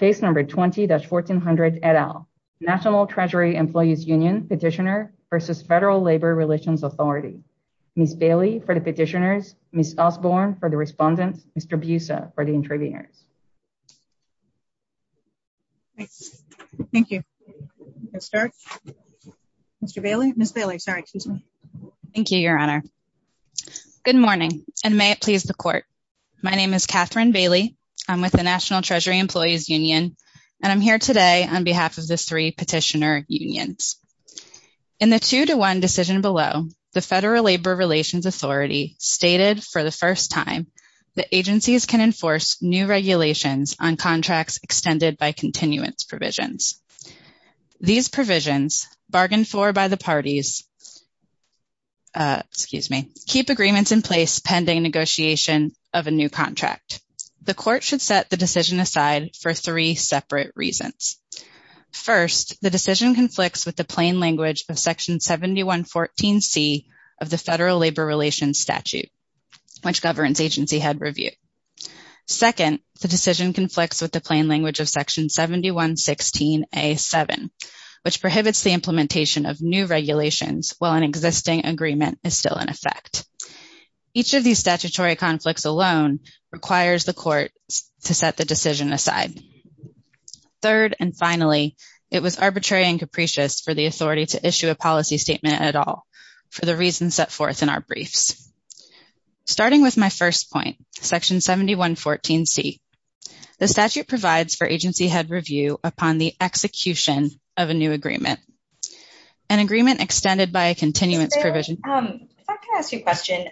20-1400, et al., National Treasury Employees Union Petitioner v. Federal Labor Relations Authority. Ms. Bailey for the petitioners, Ms. Osborne for the respondent, Mr. Busa for the interviewer. Thank you. Mr. Bailey? Ms. Bailey, sorry. Thank you, Your Honor. Good morning, and may it please the Court. My name is Katherine Bailey. I'm with the National Treasury Employees Union, and I'm here today on behalf of the three petitioner unions. In the two-to-one decision below, the Federal Labor Relations Authority stated for the first time that agencies can enforce new regulations on contracts extended by continuance provisions. These provisions, bargained for by the parties, excuse me, keep agreements in place pending negotiation of a new contract. The Court should set the decision aside for three separate reasons. First, the decision conflicts with the plain language of Section 7114C of the Federal Labor Relations Statute, which governance agency had reviewed. Second, the decision conflicts with the plain language of Section 7116A.7, which prohibits the implementation of new regulations while an existing agreement is still in effect. Each of these statutory conflicts alone requires the Court to set the decision aside. Third, and finally, it was arbitrary and capricious for the authority to issue a policy statement at all for the reasons set forth in our briefs. Starting with my first point, Section 7114C, the statute provides for agency head review upon the execution of a new agreement, an agreement extended by a continuance provision. Can I ask you a question?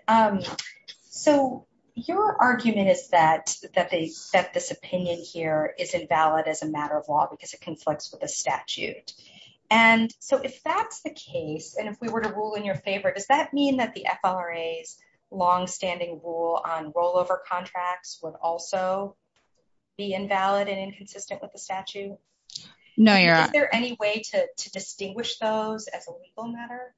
So your argument is that this opinion here is invalid as a matter of law because it conflicts with the statute. And so if that's the case, and if we were to rule in your favor, does that mean that the FLRA's longstanding rule on rollover contracts would also be invalid and inconsistent with the statute? No, you're not. Is there any way to distinguish those as a legal matter?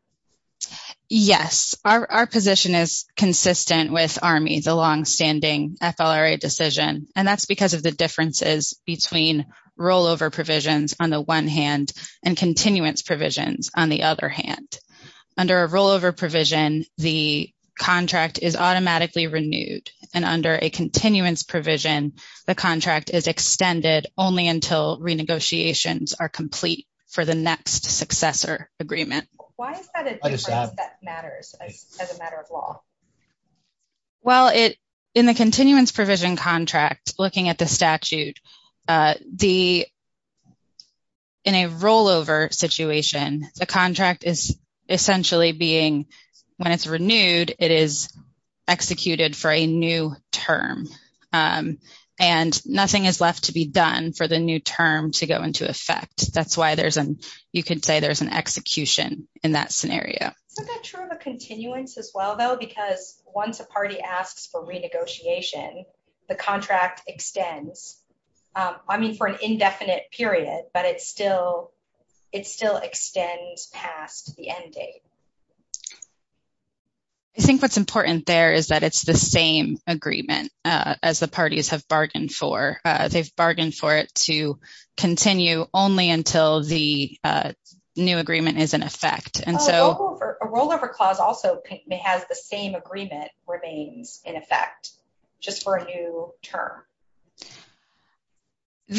Yes, our position is consistent with ARME, the longstanding FLRA decision, and that's because of the differences between rollover provisions on the one hand and continuance provisions on the other hand. Under a rollover provision, the contract is automatically renewed, and under a continuance provision, the contract is extended only until renegotiations are complete for the next successor agreement. Why is that a difference that matters as a matter of law? Well, in the continuance provision contract, looking at the statute, in a rollover situation, the contract is essentially being, when it's renewed, it is executed for a new term. And nothing is left to be done for the new term to go into effect. That's why you could say there's an execution in that scenario. Is that true of a continuance as well, though? Because once a party asks for renegotiation, the contract extends, I mean, for an indefinite period, but it still extends past the end date. I think what's important there is that it's the same agreement as the parties have bargained for. They've bargained for it to continue only until the new agreement is in effect. Oh, a rollover clause also has the same agreement remaining in effect, just for a new term.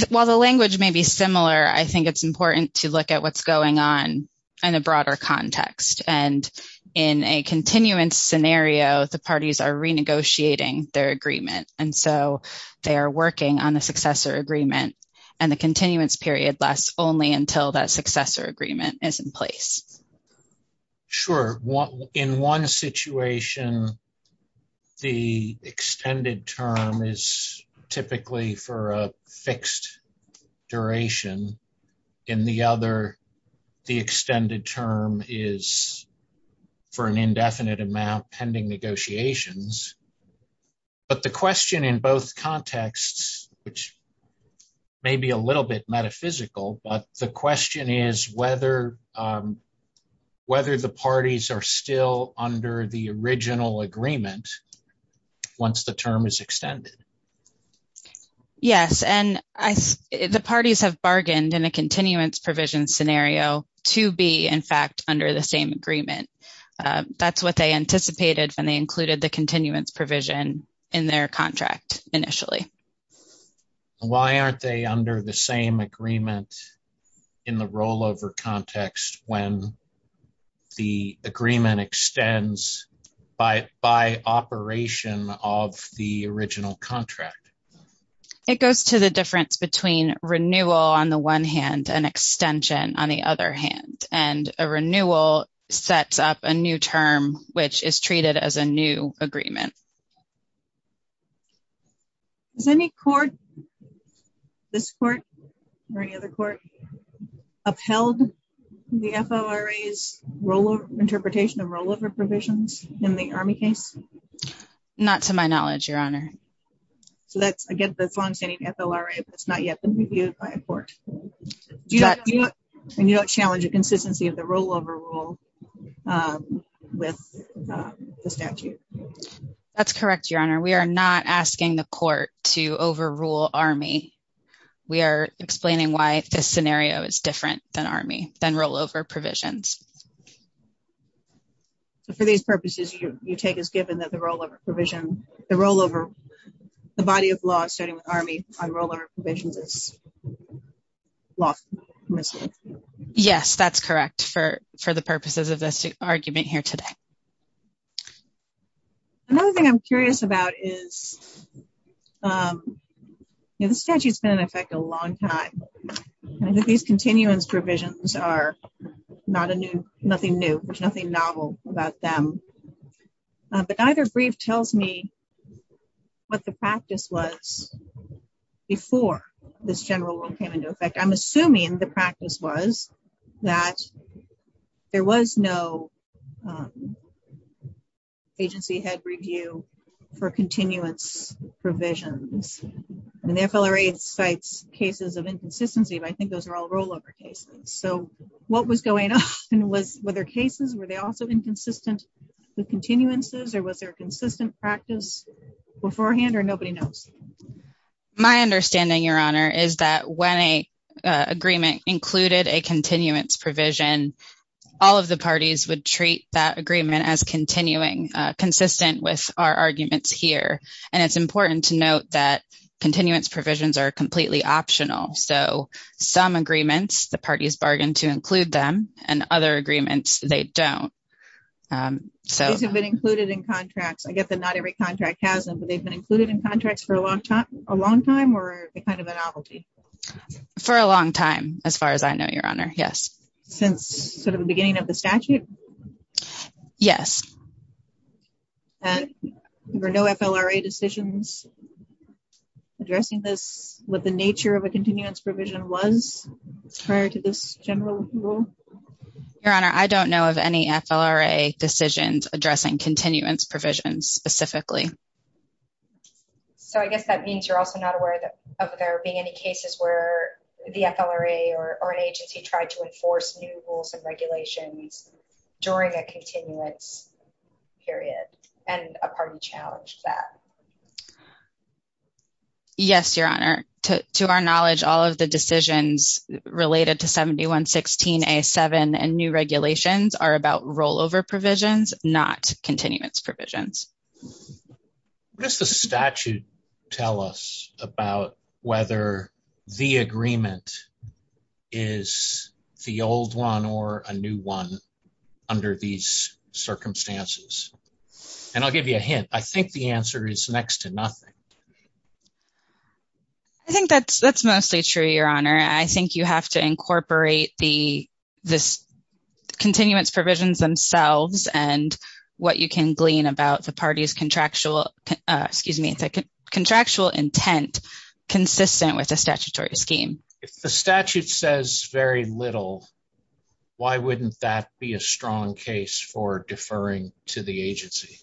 While the language may be similar, I think it's important to look at what's going on in a broader context. And in a continuance scenario, the parties are renegotiating their agreement. And so they're working on a successor agreement. And the continuance period lasts only until that successor agreement is in place. Sure. In one situation, the extended term is typically for a fixed duration. In the other, the extended term is for an indefinite amount pending negotiations. But the question in both contexts, which may be a little bit metaphysical, but the question is whether the parties are still under the original agreement once the term is extended. Yes, and the parties have bargained in a continuance provision scenario to be, in fact, under the same agreement. That's what they anticipated when they included the continuance provision in their contract initially. Why aren't they under the same agreement in the rollover context when the agreement extends by operation of the original contract? It goes to the difference between renewal on the one hand and extension on the other hand. And a renewal sets up a new term, which is treated as a new agreement. Has any court, this court or any other court, upheld the FLRA's interpretation of rollover provisions in the Army case? Not to my knowledge, Your Honor. I guess that's longstanding FLRA, but it's not yet been reviewed by a court. You don't challenge the consistency of the rollover rule with the statute? That's correct, Your Honor. We are not asking the court to overrule Army. We are explaining why this scenario is different than Army, than rollover provisions. For these purposes, you take as given that the rollover provision, the rollover, the body of law asserting Army on rollover provisions is lost. Yes, that's correct for the purposes of this argument here today. Another thing I'm curious about is, this statute's been in effect a long time. These continuance provisions are not a new, nothing new, there's nothing novel about them. But neither brief tells me what the practice was before this general rule came into effect. I'm assuming the practice was that there was no agency head review for continuance provisions. And the FLRA cites cases of inconsistency, but I think those are all rollover cases. So what was going on with their cases? Were they also inconsistent with continuances? Or was there consistent practice beforehand? Or nobody knows? My understanding, Your Honor, is that when an agreement included a continuance provision, all of the parties would treat that agreement as continuing, consistent with our arguments here. And it's important to note that continuance provisions are completely optional. So some agreements, the parties bargain to include them, and other agreements, they don't. So they've been included in contracts. I get that not every contract has them, but they've been included in contracts for a long time, or is it kind of a novelty? For a long time, as far as I know, Your Honor, yes. Since sort of the beginning of the statute? Yes. And were no FLRA decisions addressing this with the nature of a continuance provision once prior to this general rule? Your Honor, I don't know of any FLRA decisions addressing continuance provisions specifically. So I guess that means you're also not aware of there being any cases where the FLRA or an agency tried to enforce new rules and regulations during a continuance period, and a party challenged that. Yes, Your Honor. To our knowledge, all of the decisions related to 7116A7 and new regulations are about rollover provisions, not continuance provisions. What does the statute tell us about whether the agreement is the old one or a new one under these circumstances? And I'll give you a hint. I think the answer is next to nothing. I think that's mostly true, Your Honor. I think you have to incorporate the continuance provisions themselves and what you can glean about the party's contractual, excuse me, contractual intent consistent with the statutory scheme. If the statute says very little, why wouldn't that be a strong case for deferring to the agency?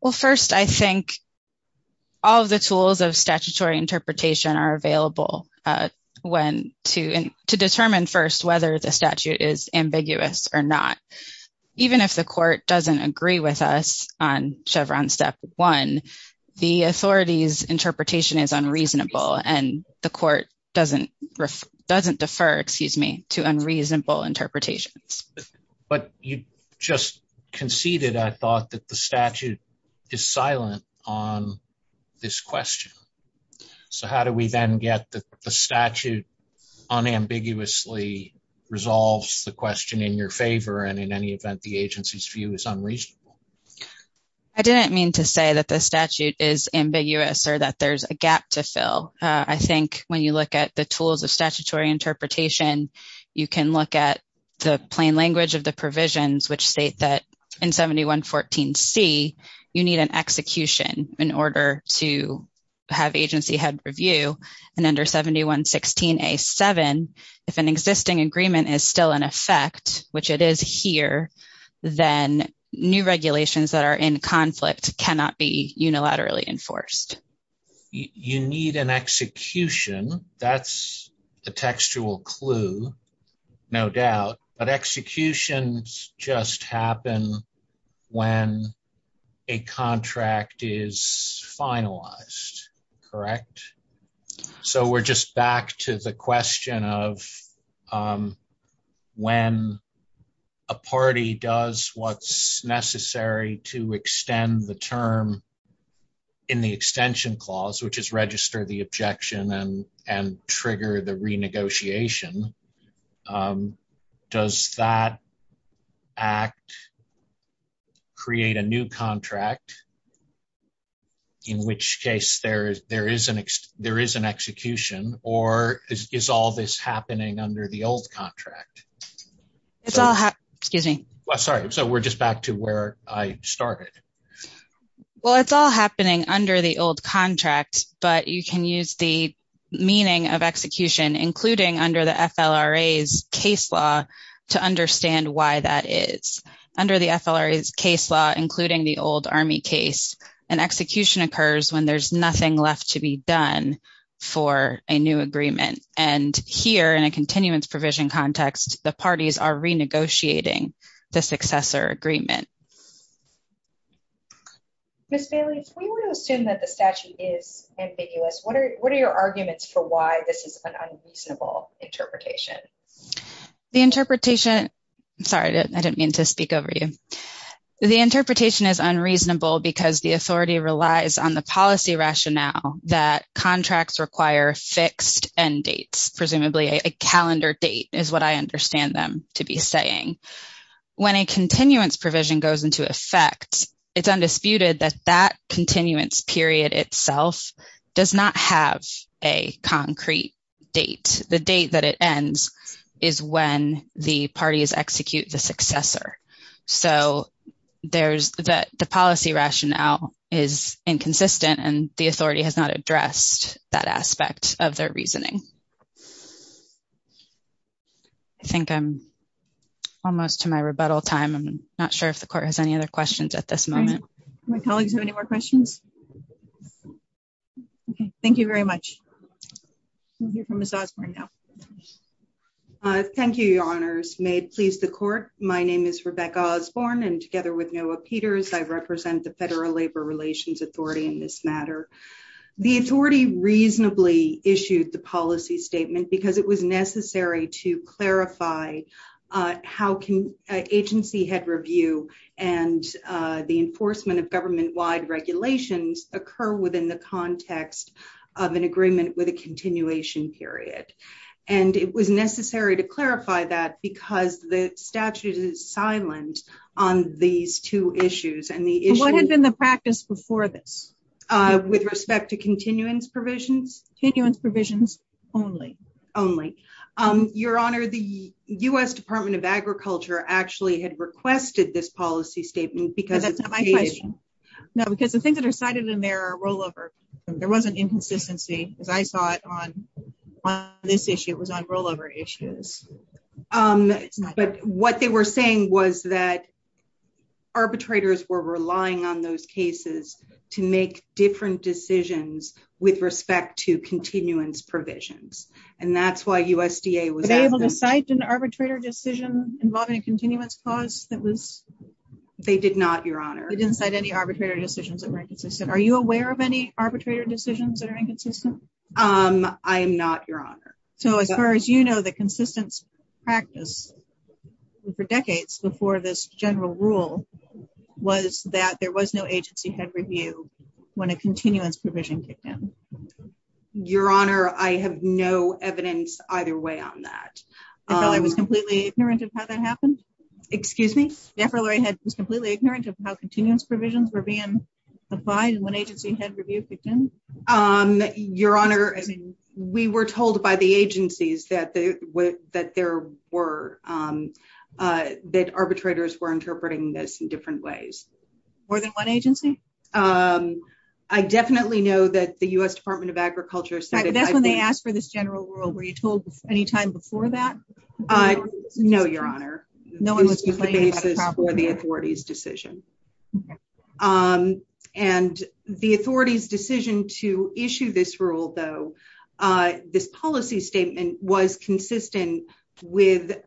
Well, first, I think all of the tools of statutory interpretation are available to determine first whether the statute is ambiguous or not. Even if the court doesn't agree with us on Chevron Step 1, the authority's interpretation is unreasonable, and the court doesn't defer, excuse me, to unreasonable interpretations. But you just conceded, I thought, that the statute is silent on this question. So how do we then get the statute unambiguously resolves the question in your favor, and in any event, the agency's view is unreasonable? I didn't mean to say that the statute is ambiguous or that there's a gap to fill. I think when you look at the tools of statutory interpretation, you can look at the plain language of the provisions, which state that in 7114C, you need an execution in order to have agency head review. And under 7116A7, if an existing agreement is still in effect, which it is here, then new regulations that are in conflict cannot be unilaterally enforced. You need an execution. That's a textual clue, no doubt. But executions just happen when a contract is finalized, correct? So we're just back to the question of when a party does what's necessary to extend the term in the extension clause, which is register the objection and trigger the renegotiation, does that act create a new contract, in which case there is an execution, or is all this happening under the old contract? It's all happening. Excuse me. Sorry. So we're just back to where I started. Well, it's all happening under the old contract, but you can use the meaning of execution, including under the FLRA's case law, to understand why that is. Under the FLRA's case law, including the old Army case, an execution occurs when there's nothing left to be done for a new agreement. And here, in a continuance provision context, the parties are renegotiating the successor agreement. Ms. Bailey, we want to assume that the statute is ambiguous. What are your arguments for why this is an unreasonable interpretation? The interpretation... Sorry, I didn't mean to speak over you. The interpretation is unreasonable because the authority relies on the policy rationale that contracts require fixed end dates, presumably a calendar date is what I understand them to be saying. When a continuance provision goes into effect, it's undisputed that that continuance period itself does not have a concrete date. The date that it ends is when the parties execute the successor. So the policy rationale is inconsistent, and the authority has not addressed that aspect of their reasoning. I think I'm almost to my rebuttal time. I'm not sure if the court has any other questions at this moment. Do my colleagues have any more questions? Okay. Thank you very much. We'll hear from Ms. Osborne now. Thank you, Your Honors. May it please the court. My name is Rebecca Osborne, and together with Noah Peters, I represent the Federal Labor Relations Authority in this matter. The authority reasonably issued the policy statement because it was necessary to clarify how agency head review and the enforcement of government-wide regulations occur within the state. It was necessary to clarify that because the statute is silent on these two issues. What has been the practice before this? With respect to continuance provisions? Continuance provisions only. Only. Your Honor, the U.S. Department of Agriculture actually had requested this policy statement because... That's not my question. No, because the things that are cited in there are rollover. There was an inconsistency, as I saw it, on this issue. It was on rollover issues. But what they were saying was that arbitrators were relying on those cases to make different decisions with respect to continuance provisions, and that's why USDA was... Were they able to cite an arbitrator decision involving a continuance clause that was... They did not, Your Honor. They didn't cite any arbitrator decisions that were inconsistent. Are you aware of any arbitrator decisions that are inconsistent? I'm not, Your Honor. So as far as you know, the consistent practice for decades before this general rule was that there was no agency head review when a continuance provision came in. Your Honor, I have no evidence either way on that. I was completely ignorant of how that happened. Excuse me? Debra Lurie was completely ignorant of how continuance provisions were being applied when agency head reviews began? Your Honor, we were told by the agencies that there were... That arbitrators were interpreting this in different ways. More than one agency? I definitely know that the US Department of Agriculture said... That's when they asked for this general rule. Were you told any time before that? No, Your Honor. No one was complaining about a continuance? No one was complaining about the authority's decision. And the authority's decision to issue this rule, though, this policy statement was consistent with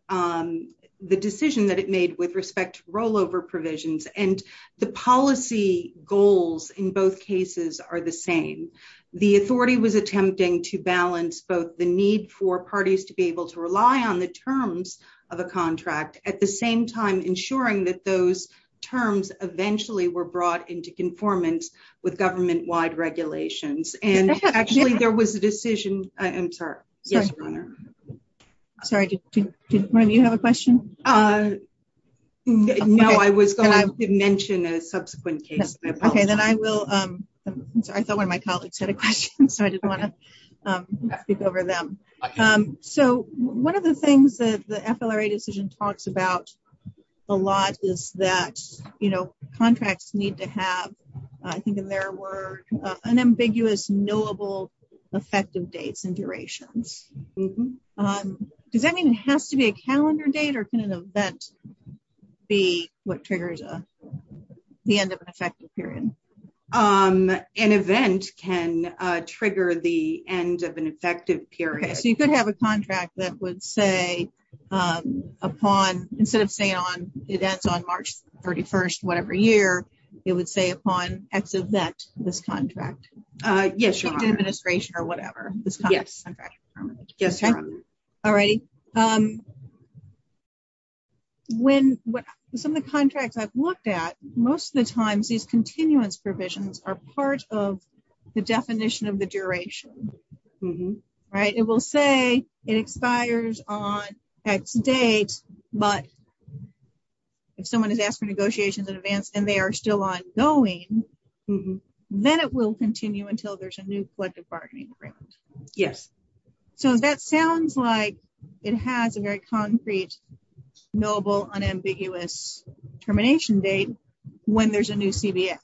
the decision that it made with respect to rollover provisions. And the policy goals in both cases are the same. The authority was attempting to balance both the need for at the same time ensuring that those terms eventually were brought into conformance with government-wide regulations. And actually, there was a decision... I'm sorry. Yes, Your Honor? Sorry, did one of you have a question? No, I was going to mention a subsequent case. Okay, then I will... I saw one of my colleagues had a question, so I just want to speak over them. So one of the things that the FLRA decision talks about a lot is that contracts need to have, I think in their word, unambiguous, knowable, effective dates and durations. Does that mean it has to be a calendar date or can an event be what triggers the end of an effective period? Okay, so you could have a contract that would say upon, instead of saying it ends on March 31st, whatever year, it would say upon X is that this contract. Yes, Your Honor. Administration or whatever. Yes, Your Honor. All righty. Some of the contracts I've looked at, most of the times these continuance provisions are part of the definition of the duration, right? It will say it expires on X date, but if someone is asking negotiations in advance and they are still ongoing, then it will continue until there's a new collective bargaining agreement. Yes. So that sounds like it has a very concrete, knowable, unambiguous termination date when there's a new CBN.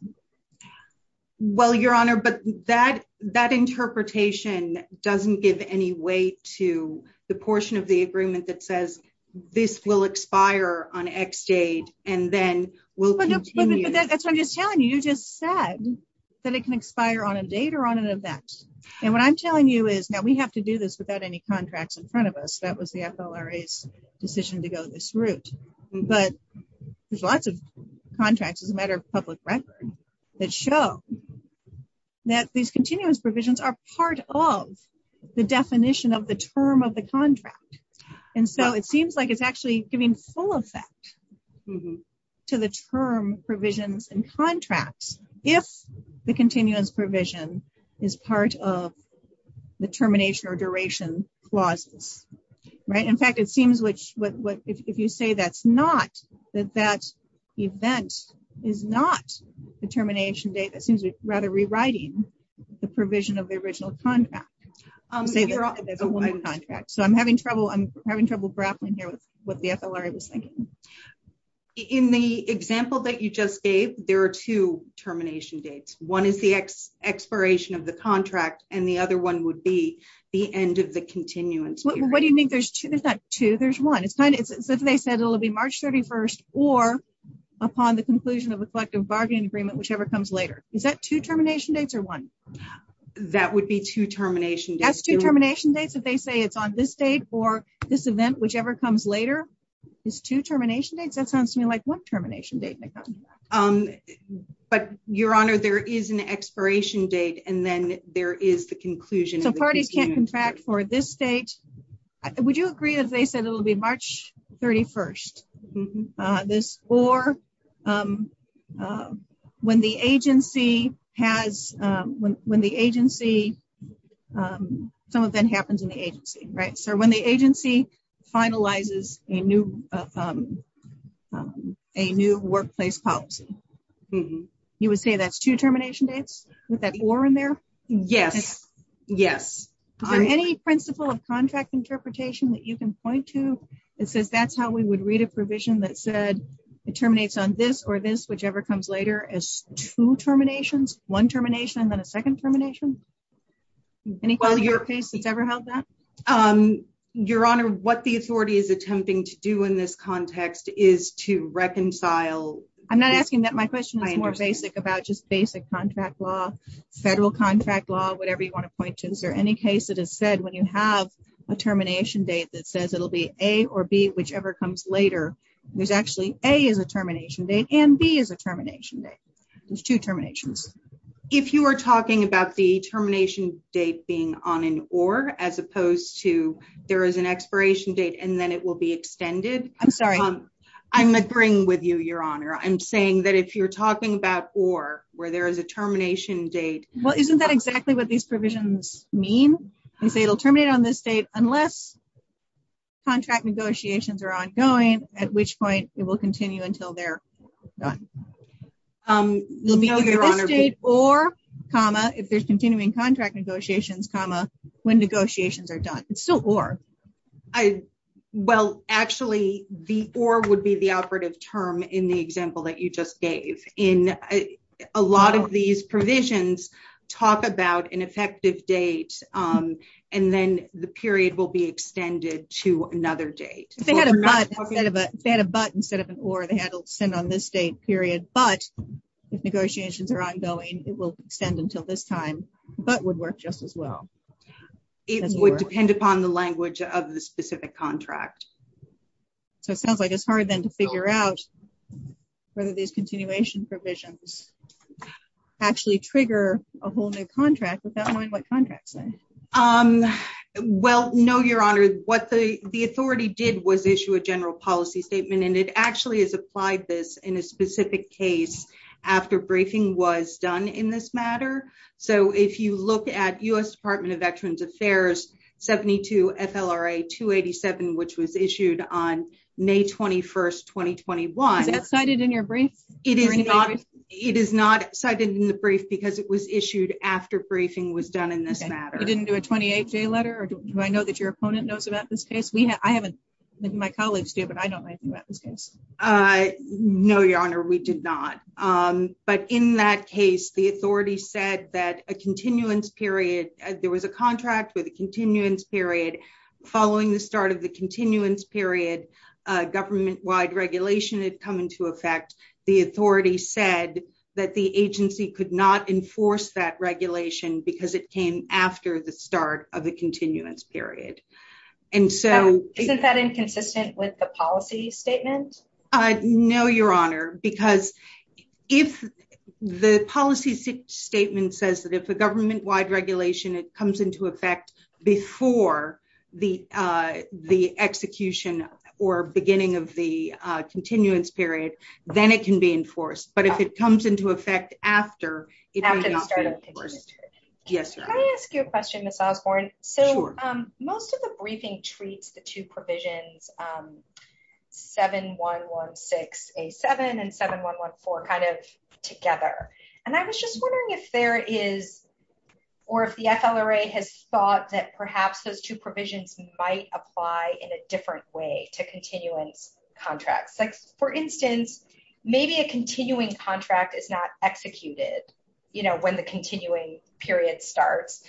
Well, Your Honor, but that interpretation doesn't give any weight to the portion of the agreement that says this will expire on X date and then will continue. That's what I'm just telling you. You just said that it can expire on a date or on an event. And what I'm telling you is that we have to do this without any contracts in front of us. That was the FLRA's decision to go this route. But there's lots of contracts as a matter of public record that show that these continuance provisions are part of the definition of the term of the contract. And so it seems like it's actually giving full effect to the term provisions and contracts if the continuance provision is part of the termination or duration clauses. In fact, it seems if you say that's not, that that event is not the termination date, it seems it's rather rewriting the provision of the original contract. So I'm having trouble grappling here with what the FLRA was saying. In the example that you just gave, there are two termination dates. One is the expiration of the contract and the other one would be the end of continuance. What do you mean there's two? There's not two, there's one. But they said it'll be March 31st or upon the conclusion of a collective bargaining agreement, whichever comes later. Is that two termination dates or one? That would be two termination dates. That's two termination dates if they say it's on this date or this event, whichever comes later. There's two termination dates? That sounds to me like one termination date. But your honor, there is an expiration date and then there is the conclusion. The party can't contract for this date. Would you agree as they said it'll be March 31st? Or when the agency has, when the agency, some event happens in the agency, right? So when the agency finalizes a new workplace policy, you would say that's two in there? Yes, yes. Is there any principle of contract interpretation that you can point to that says that's how we would read a provision that said it terminates on this or this, whichever comes later, as two terminations? One termination and then a second termination? Any case that's ever held that? Your honor, what the authority is attempting to do in this context is to reconcile. I'm not asking that. My question is more basic about just basic contract law, federal contract law, whatever you want to point to. Is there any case that has said when you have a termination date that says it'll be A or B, whichever comes later, there's actually A is a termination date and B is a termination date. There's two terminations. If you are talking about the termination date being on an or, as opposed to there is an expiration date and then it will be on. I'm saying that if you're talking about or, where there is a termination date. Well, isn't that exactly what these provisions mean? It'll terminate on this date unless contract negotiations are ongoing, at which point it will continue until they're done. If there's continuing contract negotiations, when negotiations are done. It's still or. Well, actually, the or would be the operative term in the example that you just gave. A lot of these provisions talk about an effective date and then the period will be extended to another date. If they had a but instead of an or, they had to extend on this date period, but if negotiations are ongoing, it will extend until this time, but would work just as well. It would depend upon the language of the specific contract. So, it sounds like it's hard then to figure out whether these continuation provisions actually trigger a whole new contract without knowing what contract says. Well, no, Your Honor. What the authority did was issue a general policy statement and it actually has applied this in a specific case after briefing was done in this matter. So, if you look at U.S. Department of Veterans Affairs 72 FLRA 287, which was issued on May 21st, 2021. Is that cited in your brief? It is not. It is not cited in the brief because it was issued after briefing was done in this matter. It didn't do a 28 day letter or do I know that your opponent knows about this case? I haven't. My colleagues do, but I don't know anything about this case. No, Your Honor, we did not. But in that case, the authority said that a continuance period, there was a contract with a continuance period. Following the start of the continuance period, government-wide regulation had come into effect. The authority said that the agency could not enforce that regulation because it came after the start of the continuance period. Isn't that inconsistent with the policy statement? No, Your Honor, because if the policy statement says that if a government-wide regulation, it comes into effect before the execution or beginning of the continuance period, then it can be enforced. But if it comes into effect after, it can be enforced. Can I ask you a question, Ms. Osborne? So, most of the briefing treats the two provisions 7116A7 and 7114 kind of together. And I was just wondering if there is, or if the FLRA has thought that perhaps those two provisions might apply in a different way to continuance contracts. Like, for instance, maybe a continuing contract is not executed when the continuing period starts,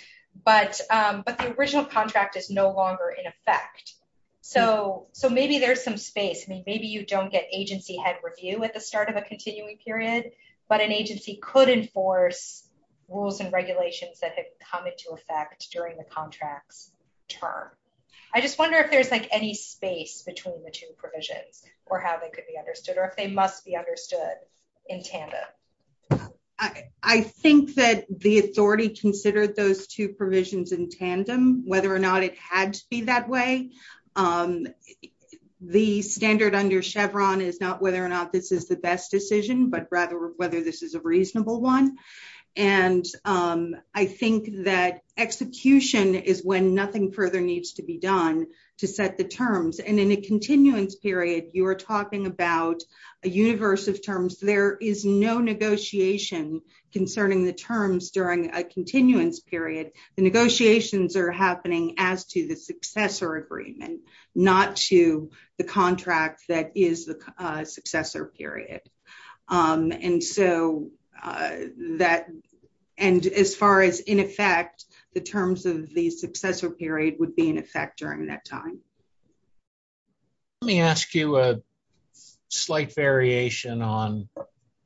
but the original contract is no longer in effect. So, maybe there's some space. I mean, maybe you don't get agency head review at the start of a continuing period, but an agency could enforce rules and regulations that had come into effect during the contract term. I just wonder if there's, like, any space between the two provisions or how they could be understood or if they must be understood in tandem. I think that the authority considered those two provisions in tandem, whether or not it had to that way. The standard under Chevron is not whether or not this is the best decision, but rather whether this is a reasonable one. And I think that execution is when nothing further needs to be done to set the terms. And in a continuance period, you're talking about a universe of terms. There is no negotiation concerning the terms during a continuance period. The negotiations are happening as to the successor agreement, not to the contract that is the successor period. And so, that, and as far as in effect, the terms of the successor period would be in effect during that time. Let me ask you a slight variation on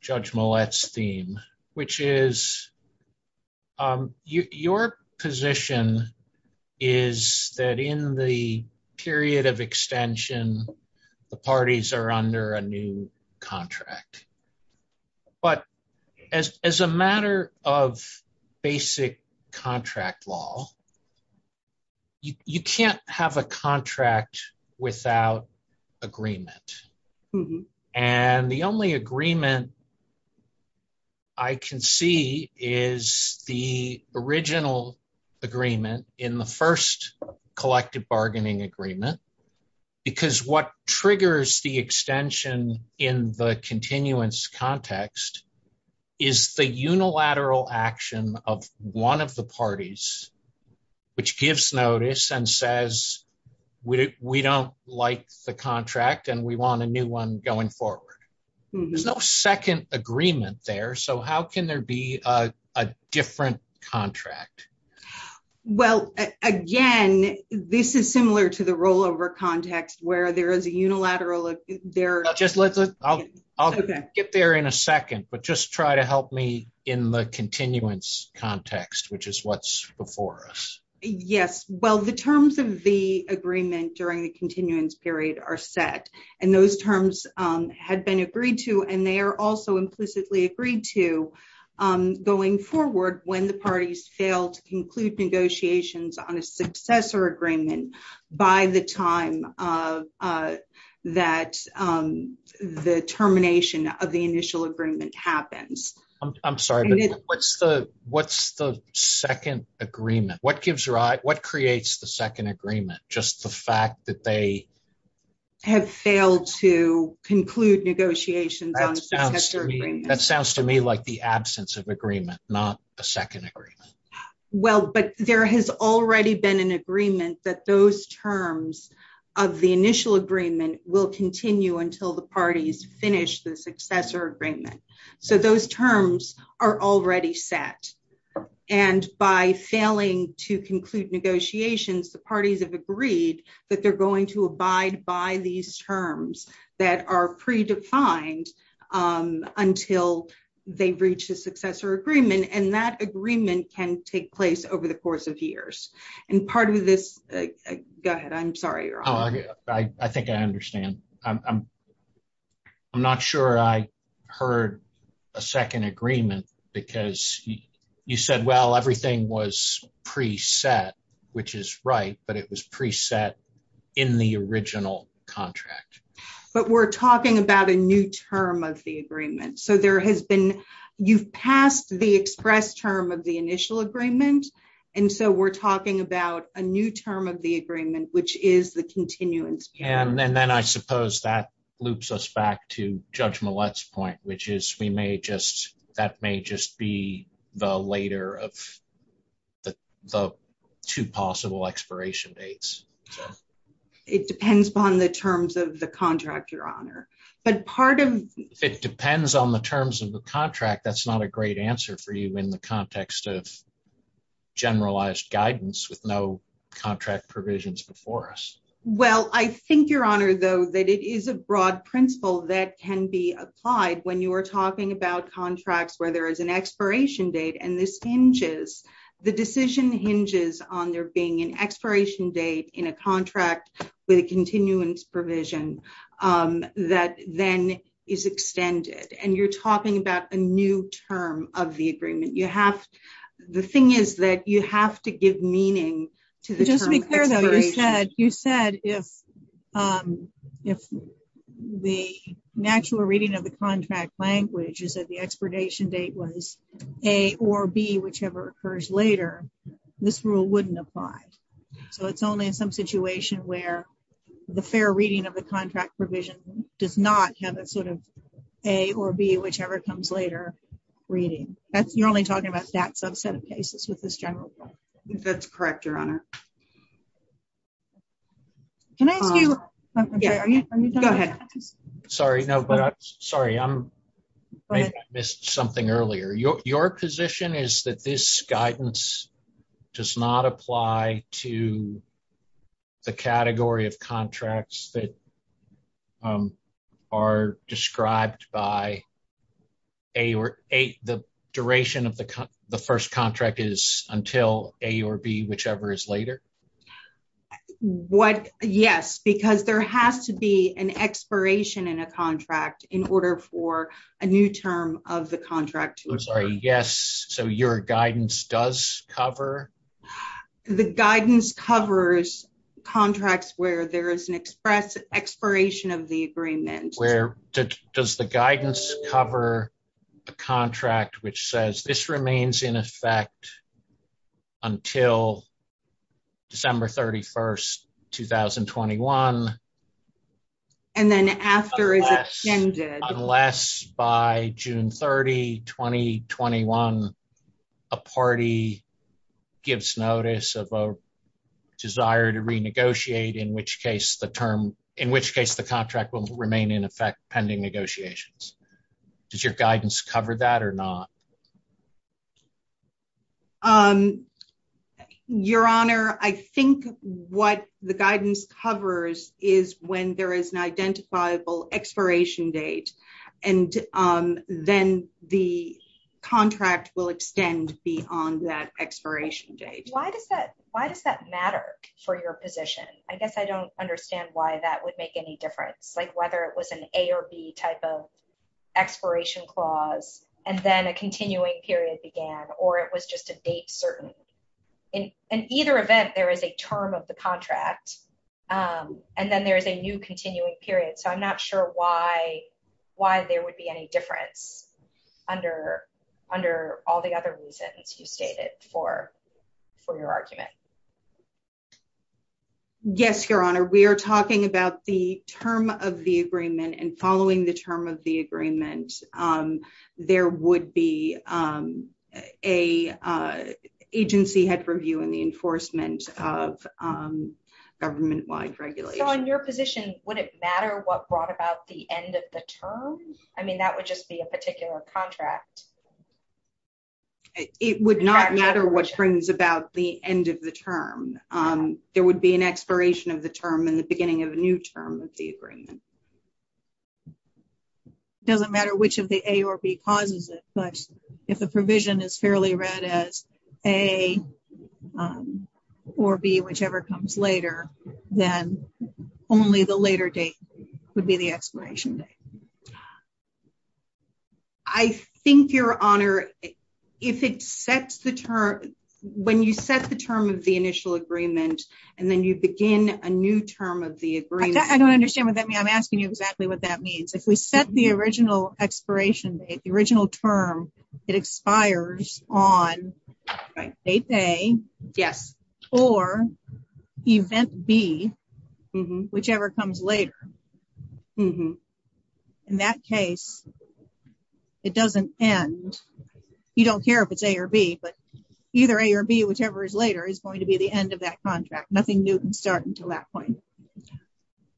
Judge Millett's theme, which is your position is that in the period of extension, the parties are under a new contract. But as a matter of basic contract law, you can't have a contract without agreement. And the only agreement I can see is the original agreement in the first collective bargaining agreement, because what triggers the extension in the continuance context is the unilateral action of one of the parties, which gives notice and says, we don't like the contract and we want a new one going forward. There's no second agreement there. So, how can there be a different contract? Well, again, this is similar to the rollover context where there is a unilateral, there- I'll get there in a second, but just try to help me in the continuance context, which is what's before us. Yes. Well, the terms of the agreement during the continuance period are set, and those terms have been agreed to, and they are also implicitly agreed to going forward when the parties fail to conclude negotiations on a successor agreement by the time that the termination of the initial agreement happens. I'm sorry, what's the second agreement? What gives rise, what creates the second agreement? Just the fact that they have failed to conclude negotiations on a successor agreement. That sounds to me like the absence of agreement, not a second agreement. Well, but there has already been an agreement that those terms of the initial agreement will continue until the parties finish the successor agreement. So, those terms are already set, and by failing to conclude negotiations, the parties have agreed that they're going to abide by these terms that are predefined until they reach a successor agreement, and that agreement can take place over the course of years. And part of this- Go ahead. I'm sorry. I think I understand. I'm not sure I heard a second agreement, because you said, well, everything was preset, which is right, but it was preset in the original contract. But we're talking about a new term of the agreement. So, you've passed the express term of the initial agreement, and so we're talking about a new term of the agreement, which is the continuance term. And then I suppose that loops us back to Judge Millett's point, which is that may just be the later of the two possible expiration dates. It depends on the terms of the contract, Your Honor. But part of- It depends on the terms of the contract. That's not a great answer for you in the context of contract provisions before us. Well, I think, Your Honor, though, that it is a broad principle that can be applied when you are talking about contracts where there is an expiration date, and this hinges, the decision hinges on there being an expiration date in a contract with a continuance provision that then is extended. And you're talking about a new term of the agreement. You have to, the thing is that you have to give meaning to the- Just to be clear though, you said if the natural reading of the contract language is that the expiration date was A or B, whichever occurs later, this rule wouldn't apply. So, it's only in some situation where the fair reading of the contract provision does not have a sort of A or B, whichever comes later, reading. You're only talking about that subset of cases with this general rule. I think that's correct, Your Honor. Can I ask you- Go ahead. Sorry. No, but I'm sorry. I missed something earlier. Your position is that this guidance does not apply to the category of contracts that are described by A or B. The duration of the first contract is until A or B, whichever is later? Yes, because there has to be an expiration in a contract in order for a new term of the contract. Yes. So, your guidance does cover? The guidance covers contracts where there is an express expiration of the agreement. Where does the guidance cover a contract which says this remains in effect until December 31st, 2021? And then after it's extended. Unless by June 30, 2021, a party gives notice of a desire to renegotiate, in which case the term, in which case the contract will remain in effect pending negotiations. Does your guidance cover that or not? Your Honor, I think what the guidance covers is when there is an identifiable expiration date. Then the contract will extend beyond that expiration date. Why does that matter for your position? I guess I don't understand why that would make any difference. Whether it was an A or B type of clause, and then a continuing period began, or it was just a date certain. In either event, there is a term of the contract, and then there's a new continuing period. So, I'm not sure why there would be any difference under all the other reasons you stated for your argument. Yes, Your Honor. We are talking about the term of the agreement, and following the term of the agreement, there would be an agency head for view in the enforcement of government-wide regulation. On your position, would it matter what brought about the end of the term? I mean, that would just be a particular contract. It would not matter what brings about the end of the term. There would be an expiration of the term in the beginning of a new term of the agreement. It doesn't matter which of the A or B clauses, but if the provision is fairly read as A or B, whichever comes later, then only the later date would be the expiration date. I think, Your Honor, if it sets the term, when you set the term of the initial agreement, and then you begin a new term of the agreement... I don't understand what that means. I'm asking you exactly what that means. If we set the original expiration date, the original term, it expires on date A, or event B, whichever comes later. In that case, it doesn't end. You don't care if it's A or B, but either A or B, whichever is later, is going to be the end of that contract. Nothing new can start until that point.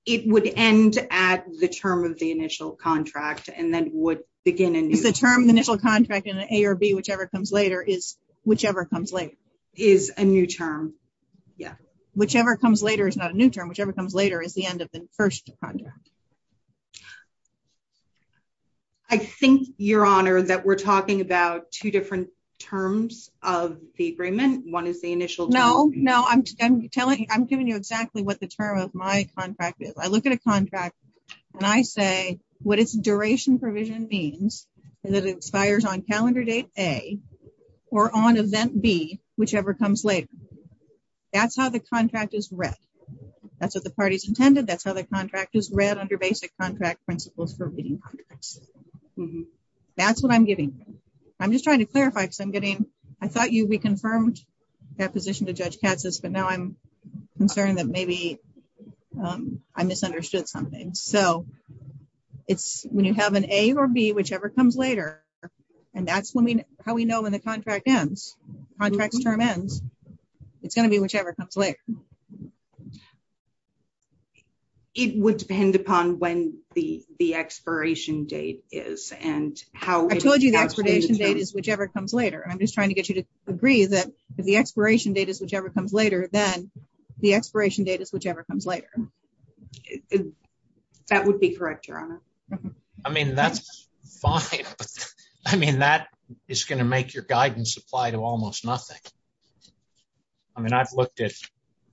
It would end at the term of the initial contract, and then would begin a new... The term initial contract in A or B, whichever comes later, is whichever comes later. Is a new term. Yeah. Whichever comes later is not a new term. Whichever comes later is the end of the first contract. I think, Your Honor, that we're talking about two different terms of the agreement. One is the initial term. No, no. I'm telling you exactly what the term of my contract is. I look at a contract, and I say what its duration provision means, and that it expires on calendar date A, or on event B, whichever comes later. That's how the contract is read. That's what the party's intended. That's how the contract is read under basic contract principles for meeting contracts. That's what I'm getting. I'm just trying to clarify, because I'm getting... I thought you reconfirmed that position to Judge Katz's, but now I'm concerned that maybe I misunderstood something. When you have an A or B, whichever comes later, and that's how we know when the contract ends. Contract term ends. It's going to be whichever comes later. It would depend upon when the expiration date is and how... I told you the expiration date is whichever comes later. I'm just trying to get you to agree that if the expiration date is whichever comes later, then the expiration date is whichever comes later. That would be correct, Your Honor. I mean, that's... I mean, that is going to make your guidance apply to almost nothing. I mean, I've looked at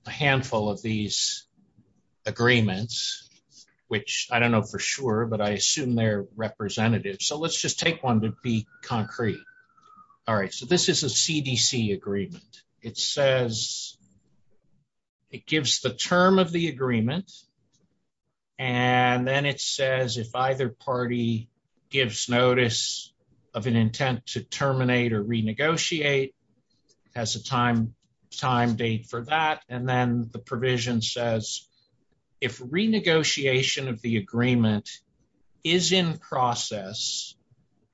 a handful of these agreements, which I don't know for sure, but I assume they're representative. Let's just take one to be concrete. All right. This is a CDC agreement. It says... It gives the term of the agreement, and then it says if either party gives notice of an intent to terminate or renegotiate, has a time date for that, and then the provision says if renegotiation of the agreement is in process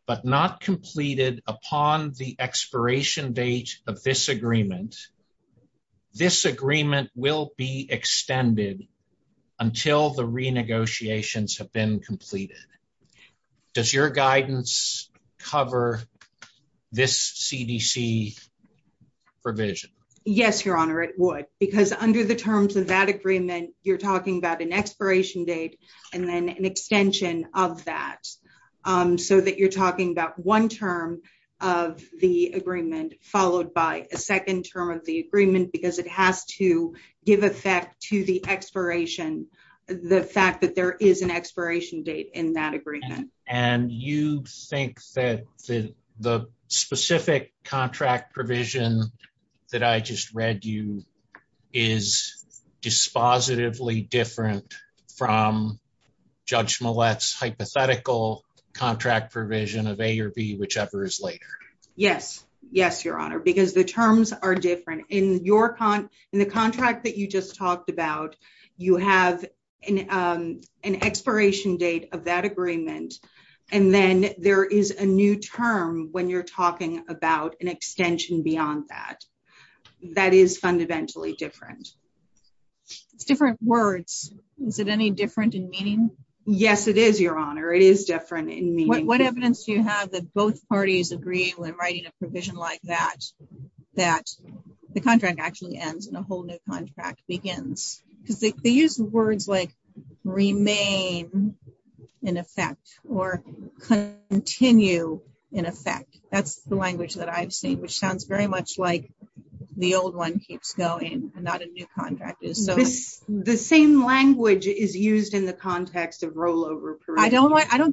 but not completed upon the expiration date of this agreement, this agreement will be extended until the renegotiations have been completed. Does your guidance cover this CDC provision? Yes, Your Honor, it would, because under the terms of that agreement, you're talking about an expiration date and then an extension of that, so that you're talking about one term of the agreement followed by a second term of the agreement because it has to give effect to the expiration, the fact that there is an expiration date in that agreement. And you think that the specific contract provision that I just read you is dispositively different from Judge Millett's hypothetical contract provision of A or B, whichever is later? Yes. Yes, Your Honor, because the terms are different. In the contract that you just talked about, you have an expiration date of that agreement, and then there is a new term when you're talking about an extension beyond that. That is fundamentally different. Different words. Is it any different in meaning? Yes, it is, Your Honor. It is different in meaning. What evidence do you have that both parties agree when writing a provision like that, that the contract actually ends and a whole new contract begins? They use words like remain in effect or continue in effect. That's the language that I've seen, which sounds very much like the old one keeps going and not a new contract. The same language is used in the context of rollover.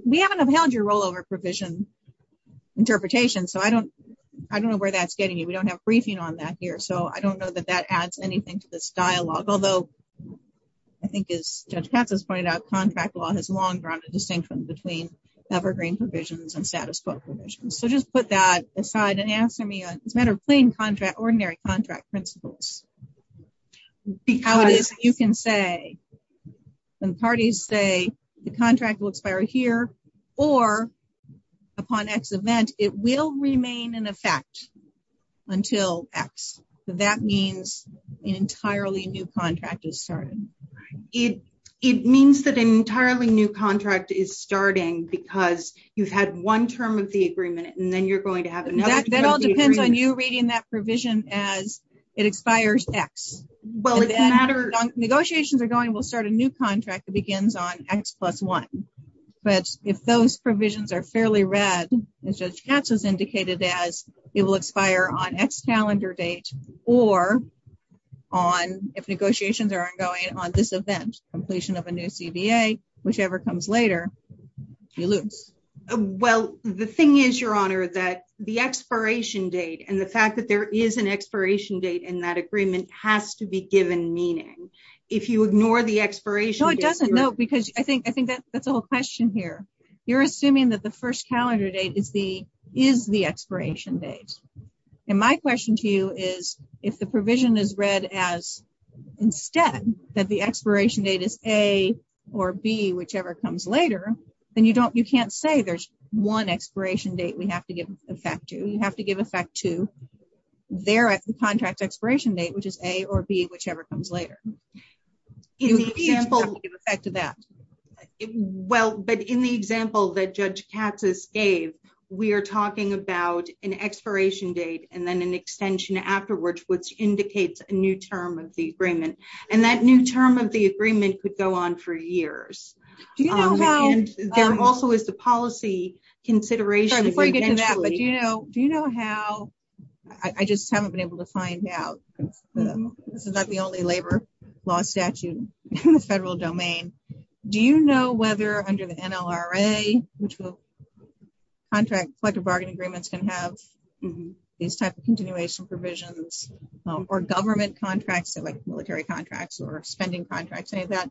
We haven't availed your rollover provision interpretation, so I don't know where that's getting you. We don't have briefing on that here, so I don't know that that adds anything to this dialogue, although I think, as Judge Katz has pointed out, contract law has long grounded the distinction between Evergreen provisions and status quo provisions. So, just put that aside and answer me. It's not a plain contract, ordinary contract principle. It's not a plain contract. It's not a plain contract because you can say some parties say the contract will expire here or upon X event, it will remain in effect until X. So, that means an entirely new contract is starting. It means that an entirely new contract is starting because you've had one term of the agreement and then you're going to have another term of the agreement. That all depends on you reading that provision as it expires X. Negotiations are going, we'll start a new contract that begins on X plus one, but if those provisions are fairly read, as Judge Katz has indicated, as it will expire on X calendar date or if negotiations are ongoing on this event, completion of a new CBA, whichever comes later, you lose. Well, the thing is, Your Honor, that the expiration date and the fact that there is an expiration date in that agreement has to be given meaning. If you ignore the expiration... No, it doesn't. No, because I think that's the whole question here. You're assuming that the first calendar date is the expiration date. And my question to you is, if the provision is read as instead, that the expiration date is A or B, whichever comes later, then you can't say there's one expiration date we have to give effect to. You have to give effect to their contract expiration date, which is A or B, whichever comes later. Well, but in the example that Judge Katz has gave, we are talking about an expiration date and then an extension afterwards, which indicates a new term of the agreement. And that new term of the agreement could go on for years. Do you know how... And there also is the policy consideration... Sorry, before you get to that, but do you know how... I just haven't been able to find out. This is not the only labor law statute in the federal domain. Do you know whether under the NLRA, which will contract collective bargaining agreements and have these types of continuation provisions, or government contracts, like military contracts or expending contracts, any of that,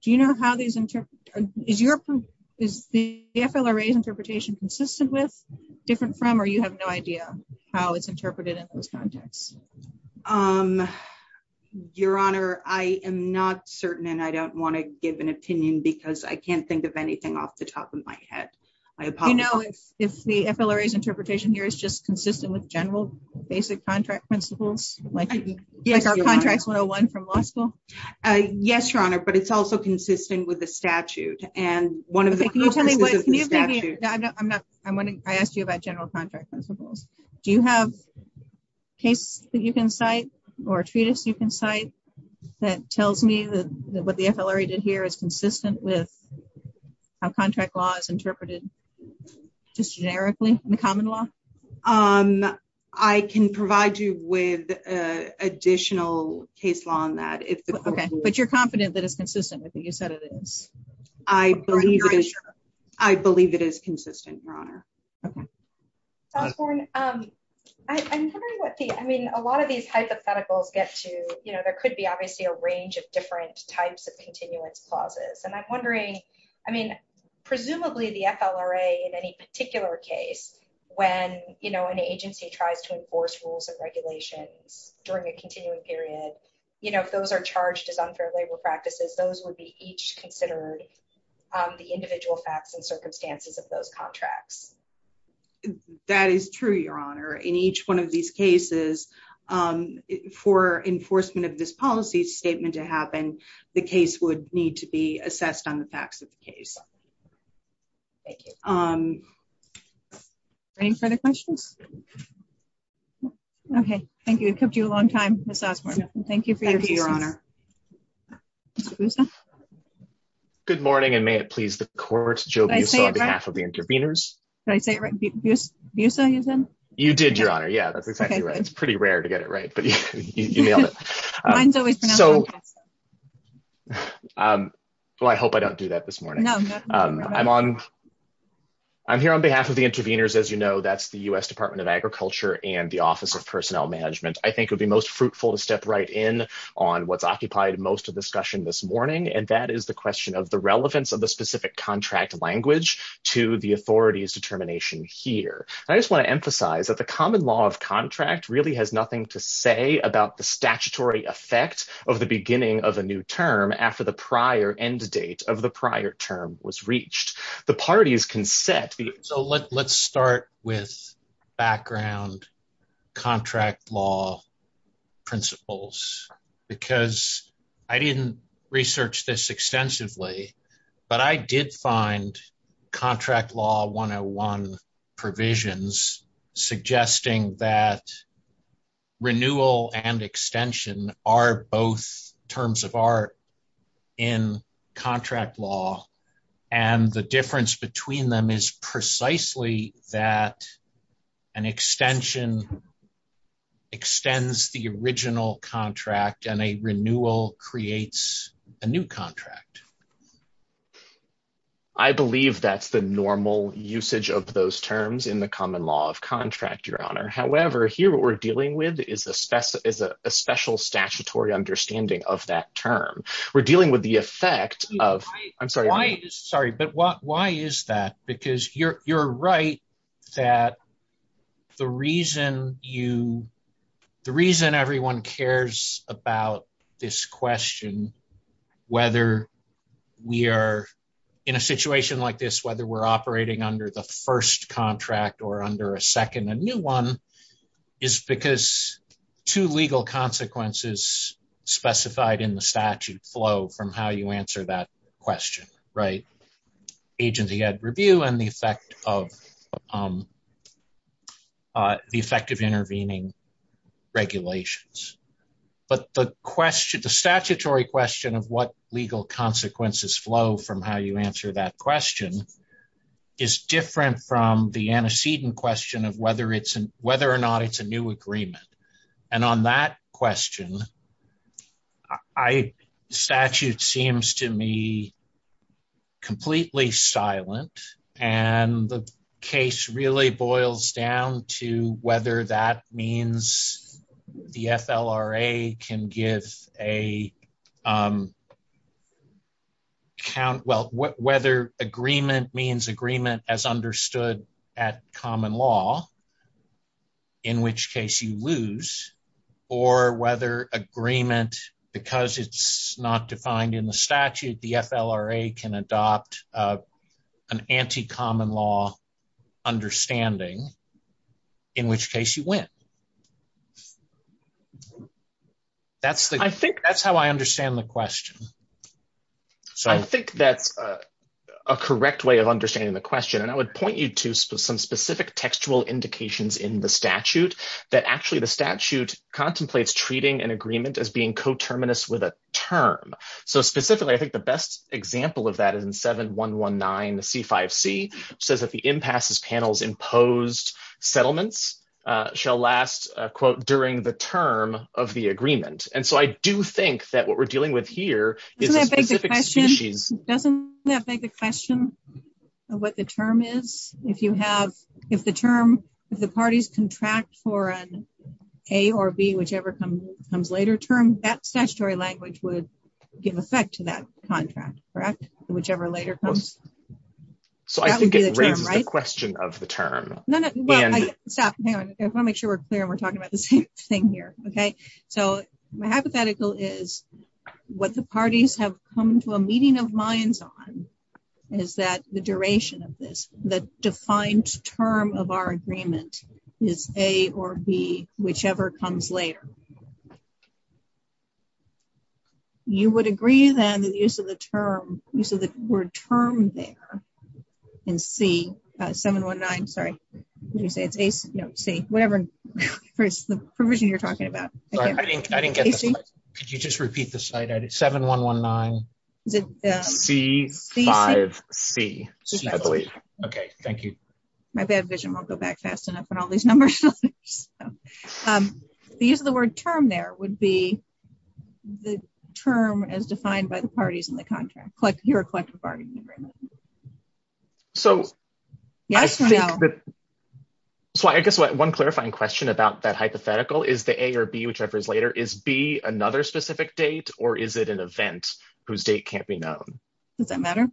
do you know how these interpret... Is the FLRA's interpretation consistent with, different from, or you have no idea how it's interpreted in those contexts? Your Honor, I am not certain and I don't want to give an opinion because I can't give anything off the top of my head. Do you know if the FLRA's interpretation here is just consistent with general basic contract principles? Yes, Your Honor, but it's also consistent with the statute and one of the... Can you tell me what... I asked you about general contract principles. Do you have cases that you can cite or treaties you can cite that tells me that what the FLRA did is consistent with how contract law is interpreted just generically in the common law? I can provide you with an additional case law on that. Okay, but you're confident that it's consistent with what you said it is? I believe it is consistent, Your Honor. A lot of these hypotheticals get to... There could be obviously a range of different types of continuous clauses and I'm wondering, I mean, presumably the FLRA in any particular case when an agency tries to enforce rules of regulation during a continuing period, if those are charged as unfair labor practices, those would be each considered the individual facts and circumstances of those contracts. That is true, Your Honor. In each one of these cases, for enforcement of this policy statement to happen, the case would need to be assessed on the facts of the case. Thank you. Any further questions? Okay, thank you. It took you a long time, Ms. Osborne. Thank you for your time. Thank you, Your Honor. Ms. Busa? Good morning and may it please the court, Joe Busa on behalf of the intervenors. Did I say it right? Busa, you said? You did, Your Honor. Yeah, that's exactly right. It's pretty rare to get it right, but you nailed it. Well, I hope I don't do that this morning. I'm here on behalf of the intervenors. As you know, that's the U.S. Department of Agriculture and the Office of Personnel Management. I think it would be most fruitful to step right in on what's occupied most of the discussion this morning and that is the question of the relevance of the specific contract language to the authority's determination here. I just want to emphasize that the common law of contract really has nothing to say about the statutory effect of the beginning of a new term after the prior end date of the prior term was reached. The parties can set... So let's start with background contract law principles because I didn't research this extensively, but I did find contract law 101 provisions suggesting that renewal and extension are both terms of art in contract law and the difference between them is precisely that an extension extends the original contract and a renewal creates a new contract. I believe that's the normal usage of those terms in the common law of contract, your honor. However, here what we're dealing with is a special statutory understanding of that term. We're dealing with the effect of... I'm sorry. Sorry, but why is that? Because you're right that the reason you... the reason everyone cares about this question, whether we are in a situation like this, whether we're operating under the first contract or under a second, a new one, is because two legal consequences specified in the statute flow from how you answer that intervening regulations. But the question, the statutory question of what legal consequences flow from how you answer that question is different from the antecedent question of whether it's an... whether or not it's a new agreement. And on that question, the statute seems to me that means the FLRA can give a count... well, whether agreement means agreement as understood at common law, in which case you lose, or whether agreement, because it's not defined in the statute, the FLRA can adopt an anti-common law understanding, in which case you win. That's the... I think that's how I understand the question. So I think that's a correct way of understanding the question, and I would point you to some specific textual indications in the statute that actually the statute contemplates treating an term. So specifically, I think the best example of that is in 7-119-C5C, says that the impasse's panels imposed settlements shall last, quote, during the term of the agreement. And so I do think that what we're dealing with here is... Doesn't that beg the question of what the term is? If you have... if the term... if the parties contract for an A or B, whichever comes later term, that statutory language would give effect to that contract, correct? Whichever later comes. So I think it rams the question of the term. No, no. Stop. Hang on. I want to make sure we're clear and we're talking about this thing here. Okay? So my hypothetical is what the parties have come to a meeting of minds on is that the duration of this, the defined term of our agreement is A or B, whichever comes later. You would agree, then, that the use of the term... use of the word term there in C... 7-119, sorry. Did you say it's A? No, it's C. Whatever the provision you're talking about. Sorry, I didn't get that. Could you just repeat the slide? I did 7-119, C-5-C, I believe. Okay. Thank you. My bad vision won't go back fast enough on all these numbers. The use of the word term there would be the term as defined by the parties in the contract, your collective bargaining agreement. So I guess one clarifying question about that is B, another specific date, or is it an event whose date can't be known? Does that matter?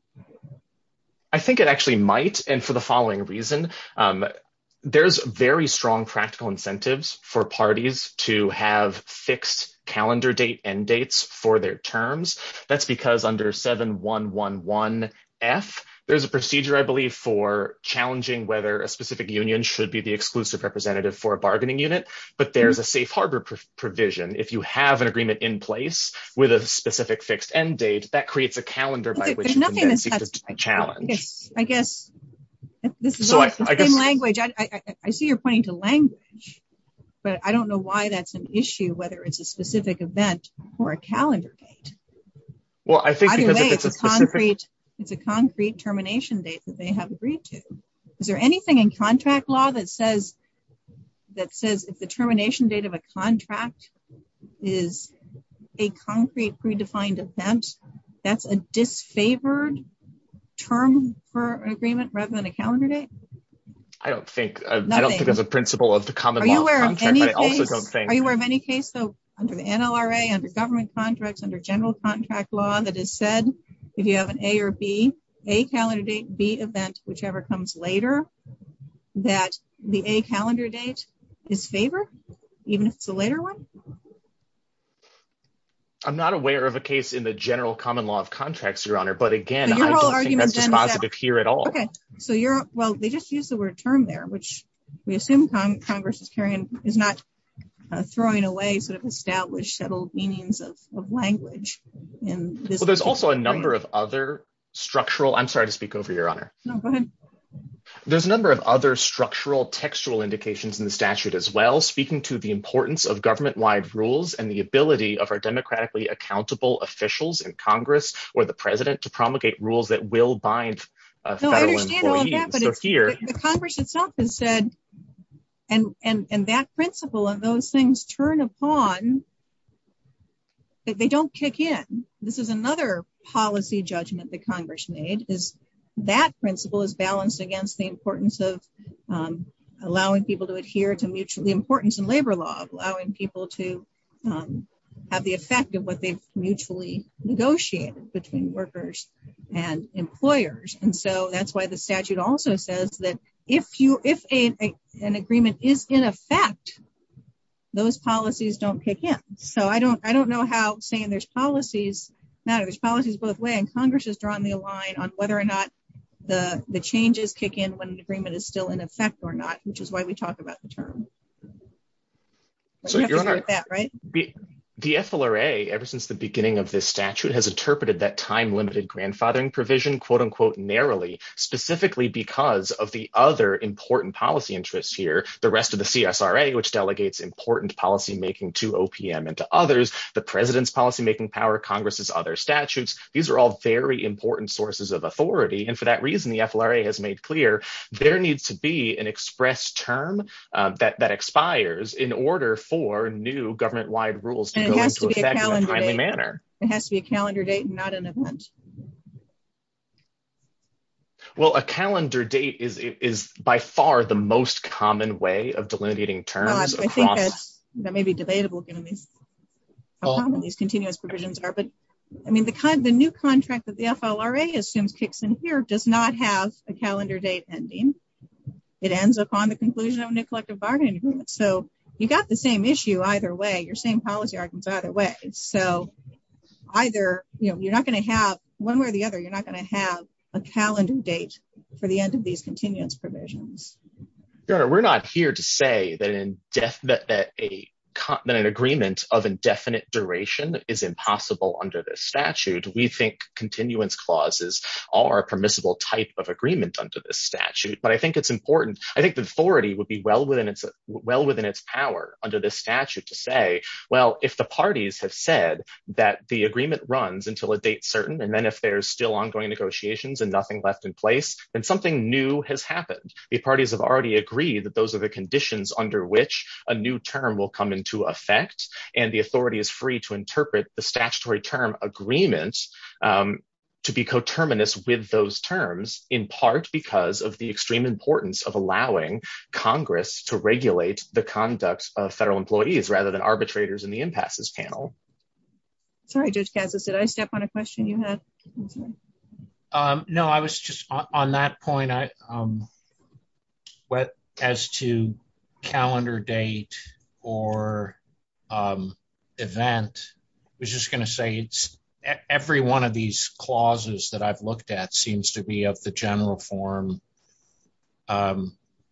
I think it actually might, and for the following reason. There's very strong practical incentives for parties to have fixed calendar date end dates for their terms. That's because under 7111F, there's a procedure, I believe, for challenging whether a specific union should be the exclusive representative for a bargaining unit, but there's a safe harbor provision. If you have an agreement in place with a specific fixed end date, that creates a calendar by which to challenge. I guess this is all the same language. I see you're pointing to language, but I don't know why that's an issue, whether it's a specific event or a calendar date. Well, I think because it's a concrete termination date that they have agreed to. Is there anything in contract law that says if the termination date of a contract is a concrete predefined event, that's a disfavored term for agreement rather than a calendar date? I don't think. I don't think there's a principle of the common contract. I also don't think. Are you aware of any case, though, under the NLRA, under government contracts, under general contract law, that is said if you have an A or B, A calendar date, B event, whichever comes later, that the A calendar date is favored even if it's a later one? I'm not aware of a case in the general common law of contracts, Your Honor, but again, I don't think that's a concept here at all. Okay. Well, they just used the word term there, which we assume Congress is not throwing away sort of established settled meanings of language and there's also a number of other structural. I'm sorry to speak over your honor. There's a number of other structural textual indications in the statute as well, speaking to the importance of government wide rules and the ability of our democratically accountable officials in Congress or the president to promulgate rules that will bind. The Congress itself has said and that principle of those things turn upon. If they don't kick in, this is another policy judgment that Congress made is that principle is balanced against the importance of allowing people to adhere to the importance of labor laws, allowing people to have the effect of what they mutually negotiated between workers and employers. And so that's why the statute also says that if an agreement is in effect, those policies don't kick in. So I don't, I don't know how saying there's policies. Now there's policies both way and Congress has drawn me a line on whether or not the changes kick in when the agreement is still in effect or not, which is why we talk about the term. The FLRA ever since the beginning of this statute has interpreted that time limited grandfathering provision quote unquote narrowly specifically because of the other important policy interests here, the rest of the CSRA, which delegates important policymaking to OPM and to others, the president's policymaking power, Congress's other statutes. These are all very important sources of authority. And for that reason, the FLRA has made clear there needs to be an express term that expires in order for new government wide rules. It has to be a calendar date, not an event. Well, a calendar date is by far the most common way of delineating terms. That may be debatable. I mean, the kind of the new contract that the FLRA assumes kicks in here does not have a calendar date ending. It ends up on the conclusion of a new collective bargaining agreement. So you've got the same issue either way. You're seeing policy arguments either way. So either you're not going to have one way or the other, you're not going to have a calendar date for the end of these continuance provisions. We're not here to say that an agreement of indefinite duration is impossible under this statute. We think continuance clauses are a permissible type of agreement under this statute. But I think it's important. I think the authority would be well within its power under this statute to say, well, if the parties have said that the agreement runs until a date certain, and then if there's still ongoing negotiations and nothing left in place, then something new has happened. The parties have already agreed that those are the conditions under which a new term will come into effect. And the authority is free to interpret the statutory term agreements to be coterminous with those terms in part because of the extreme importance of allowing Congress to regulate the conduct of federal employees rather than arbitrators in the impasses panel. Sorry, Judge Cazes, did I step on a question you had? No, I was just on that point. As to calendar date or event, I was just going to say it's every one of these clauses that I've looked at seems to be of general form,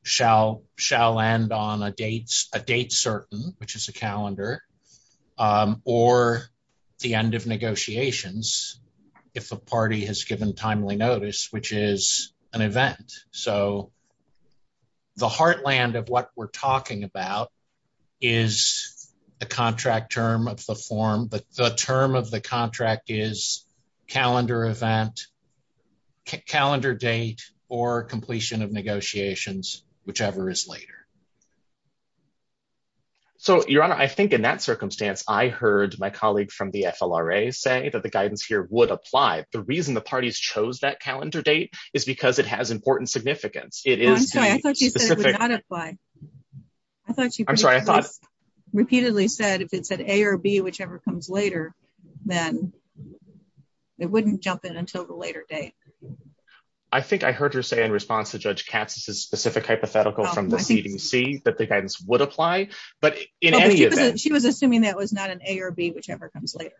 shall end on a date certain, which is a calendar, or the end of negotiations if a party has given timely notice, which is an event. So the heartland of what we're talking about is the contract term of the form, but the term of the contract is calendar event, calendar date, or completion of negotiations, whichever is later. So, Your Honor, I think in that circumstance, I heard my colleague from the FLRA say that the guidance here would apply. The reason the parties chose that calendar date is because it has important significance. I'm sorry, I thought you said it would not apply. I thought you repeatedly said if it said A or B, whichever comes later, then it wouldn't jump in until the later date. I think I heard her say in response to Judge Cazes' specific hypothetical from the CDC that the guidance would apply, but in any event... She was assuming that was not an A or B, whichever comes later.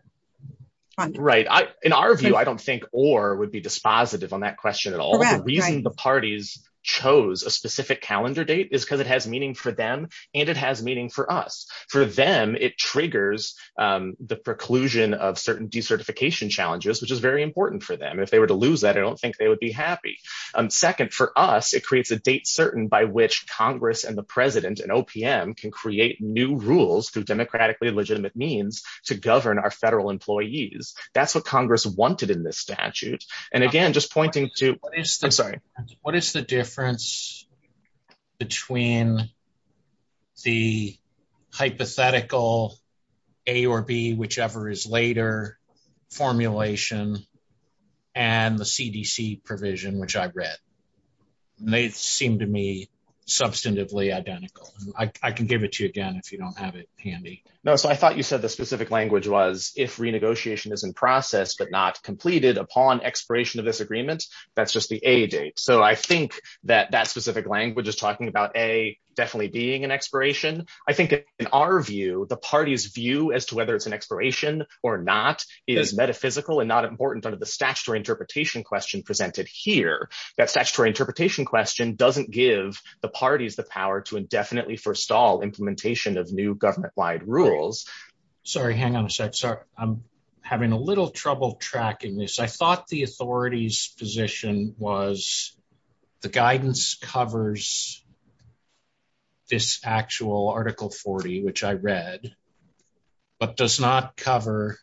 Right. In our view, I don't think or would be dispositive on that question at all. The reason the parties chose a specific calendar date is because it has meaning for them and it has meaning for us. For them, it triggers the preclusion of certain decertification challenges, which is very important for them. If they were to lose that, I don't think they would be happy. Second, for us, it creates a date certain by which Congress and the President and OPM can create new rules through democratically legitimate means to govern our federal employees. That's what What is the difference between the hypothetical A or B, whichever is later formulation, and the CDC provision, which I've read? They seem to me substantively identical. I can give it to you again if you don't have it handy. No, so I thought you said the specific language was, if renegotiation is in process but not completed upon expiration of this agreement, that's just the A date. So I think that that specific language is talking about A definitely being an expiration. I think in our view, the party's view as to whether it's an expiration or not is metaphysical and not important under the statutory interpretation question presented here. That statutory interpretation question doesn't give the parties the power to indefinitely forestall implementation of new government-wide rules. Sorry, hang on a sec. Sorry. I'm having a little trouble tracking this. I thought the authority's position was the guidance covers this actual Article 40, which I read, but does not cover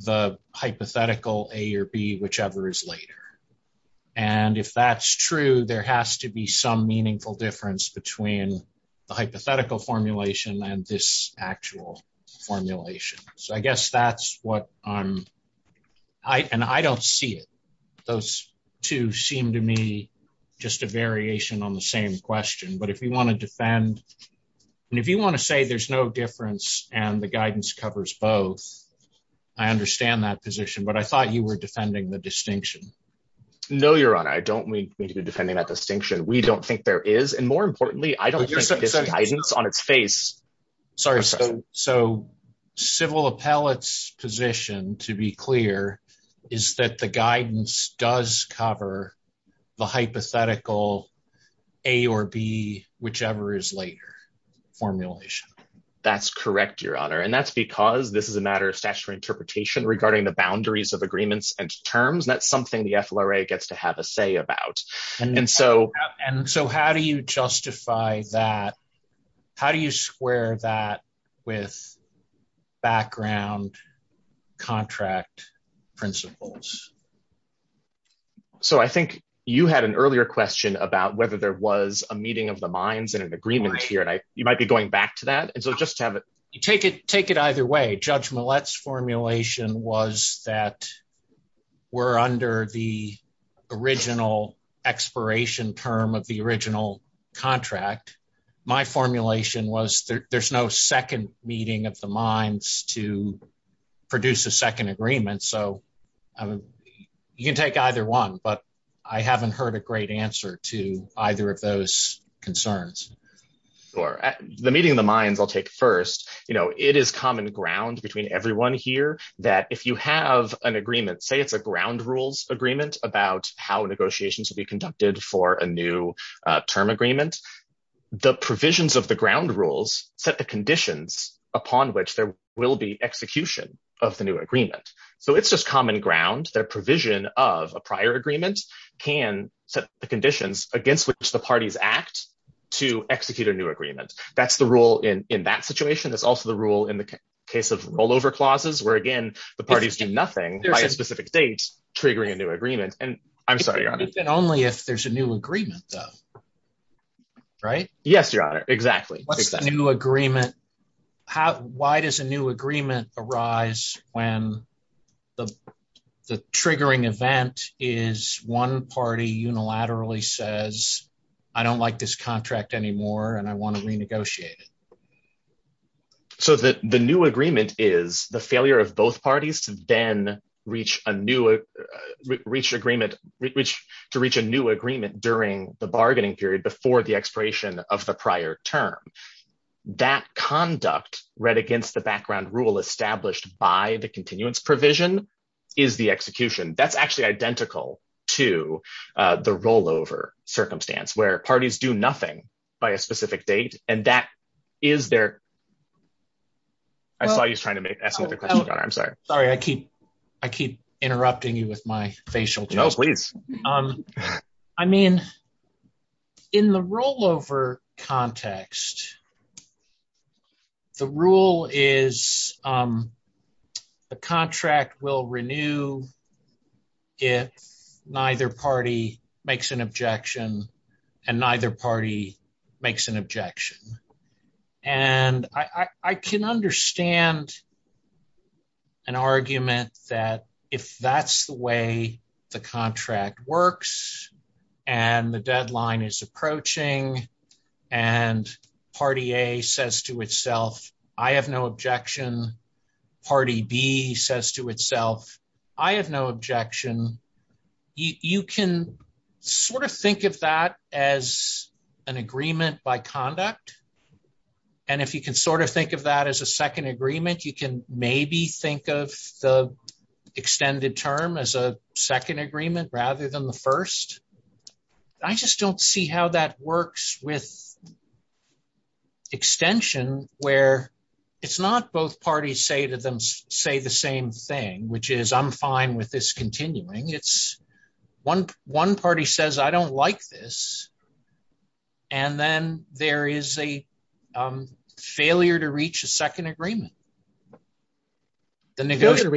the hypothetical A or B, whichever is later. And if that's true, there has to be some meaningful difference between the hypothetical formulation and this actual formulation. So I guess that's what I'm, and I don't see it. Those two seem to me just a variation on the same question. But if you want to defend, and if you want to say there's no difference and the guidance covers both, I understand that position, but I thought you were defending the distinction. No, Your Honor, I don't need to be defending that distinction. We don't think there is. And more importantly, I don't think this guidance on its face. Sorry. So civil appellate's position, to be clear, is that the guidance does cover the hypothetical A or B, whichever is later formulation. That's correct, Your Honor. And that's because this is a matter of statutory interpretation regarding the boundaries of agreements and terms. That's something the justified that. How do you square that with background contract principles? So I think you had an earlier question about whether there was a meeting of the minds and an agreement here. You might be going back to that. And so just to have it, you take it, take it either way. Judge Millett's formulation was that we're under the original expiration term of the original contract. My formulation was there's no second meeting of the minds to produce a second agreement. So you can take either one, but I haven't heard a great answer to either of those concerns. The meeting of the minds I'll take first. It is common ground between everyone here that if you have an agreement, say it's a ground rules agreement about how negotiations will be conducted for a new term agreement, the provisions of the ground rules set the conditions upon which there will be execution of the new agreement. So it's just common ground that provision of a prior agreement can set the conditions against which the parties act to execute a new agreement. That's the rule in that situation. It's also the rule in the case of I'm sorry, your honor. It's only if there's a new agreement though, right? Yes, your honor. Exactly. What's the new agreement? How, why does a new agreement arise when the triggering event is one party unilaterally says, I don't like this contract anymore and I want to renegotiate it. So the new agreement is the failure of both parties then to reach a new agreement during the bargaining period before the expiration of the prior term. That conduct read against the background rule established by the continuance provision is the execution. That's actually identical to the rollover circumstance where parties do nothing by a specific date and that is their, I saw you trying to make, ask another question, your honor. I'm sorry. Sorry. I keep, I keep interrupting you with my facial. No, please. I mean, in the rollover context, the rule is the contract will renew if neither party makes an objection and neither party makes an objection. And I can understand an argument that if that's the way the contract works and the deadline is approaching and party A says to itself, I have no objection. Party B says to itself, I have no objection. You can sort of think of that as an agreement by conduct. And if you can sort of think of that as a second agreement, you can maybe think of the extended term as a second agreement rather than the first. I just don't see how that works with extension where it's not both parties say to them, say the same thing, which is I'm fine with this continuing. It's one, one party says, I don't like this. And then there is a failure to reach a second agreement. So the failure to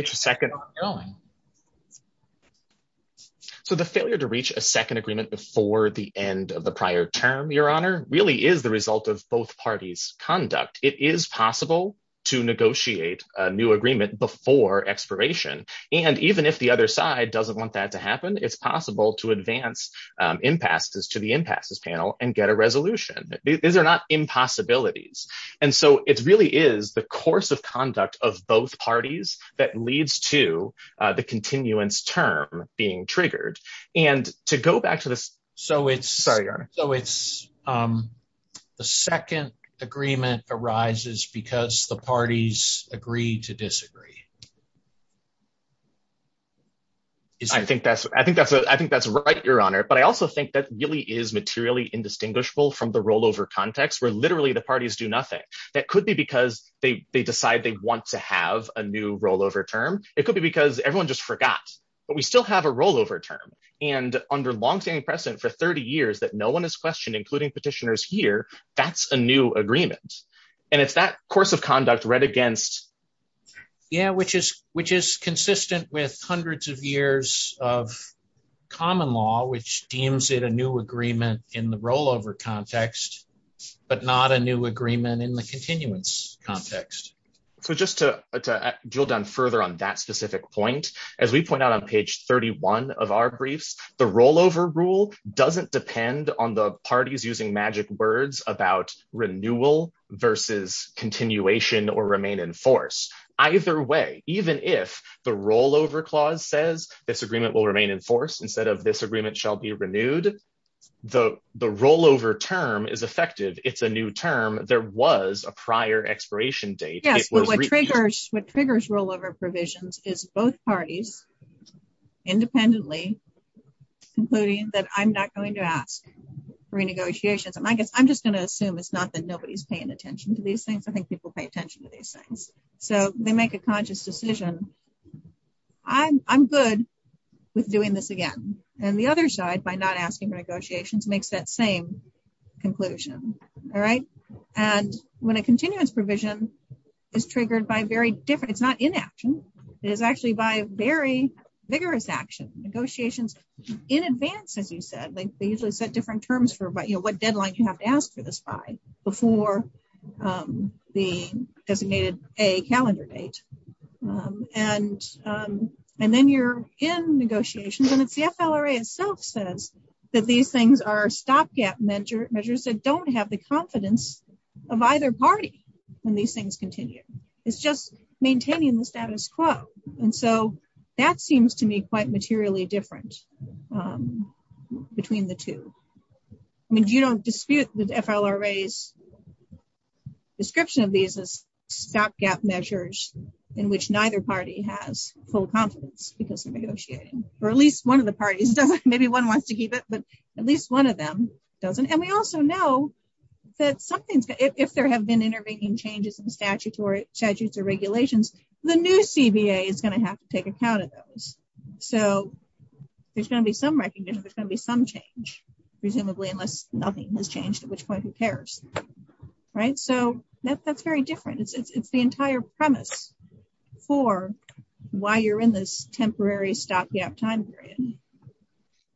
reach a second agreement before the end of the prior term, your honor, really is the result of both parties' conduct. It is possible to negotiate a new agreement before expiration. And even if the other side doesn't want that to happen, it's possible to advance impasses to the impasses panel and get a resolution. These are not impossibilities. And so it really is the course of conduct of both parties that leads to the continuance term being triggered. And to go back to the, so it's, sorry, your honor. So it's, the second agreement arises because the parties agree to disagree. I think that's, I think that's, I think that's right, your honor. But I also think that really is materially indistinguishable from the rollover context where literally the parties do nothing. That could be because they decide they want to have a new rollover term. It could be because everyone just forgot, but we still have a rollover term. And under longstanding precedent for 30 years that no one has questioned, including petitioners here, that's a new agreement. And if that course of conduct read against, yeah, which is consistent with hundreds of years of common law, which deems it a new agreement in the rollover context, but not a new agreement in the continuance context. So just to drill down further on that specific point, as we point out on page 31 of our brief, the rollover rule doesn't depend on the parties using magic words about renewal versus continuation that will remain in force. Either way, even if the rollover clause says this agreement will remain in force instead of this agreement shall be renewed, the rollover term is effective. It's a new term. There was a prior expiration date. What triggers rollover provisions is both parties independently concluding that I'm not going to ask for a negotiation. I'm just going to assume it's not that nobody's paying attention to these things. I think people pay attention to these things. So they make a conscious decision. I'm good with doing this again. And the other side, by not asking negotiations, makes that same conclusion. All right. And when a continuous provision is triggered by very different, it's not inaction, it is actually by very vigorous action. Negotiations in advance, as you said, they usually set different terms for what deadlines you have asked to describe before the designated A calendar date. And then you're in negotiations, and if the FLRA itself says that these things are stopgap measures, they don't have the confidence of either party when these things continue. It's just maintaining the status quo. And so that seems to me quite materially different between the two. I mean, you don't dispute with FLRA's description of these as stopgap measures in which neither party has full confidence because they're negotiating. Or at least one of the parties. Maybe one wants to keep it, but at least one of them doesn't. And we also know that if there have been intervening changes in statutes or regulations, the new CBA is going to have to take account of those. So there's going to be some recognition, but there's going to be some change, presumably, unless nothing has changed, at which point who cares? Right? So that's very different. It's the entire premise for why you're in this temporary stopgap time period.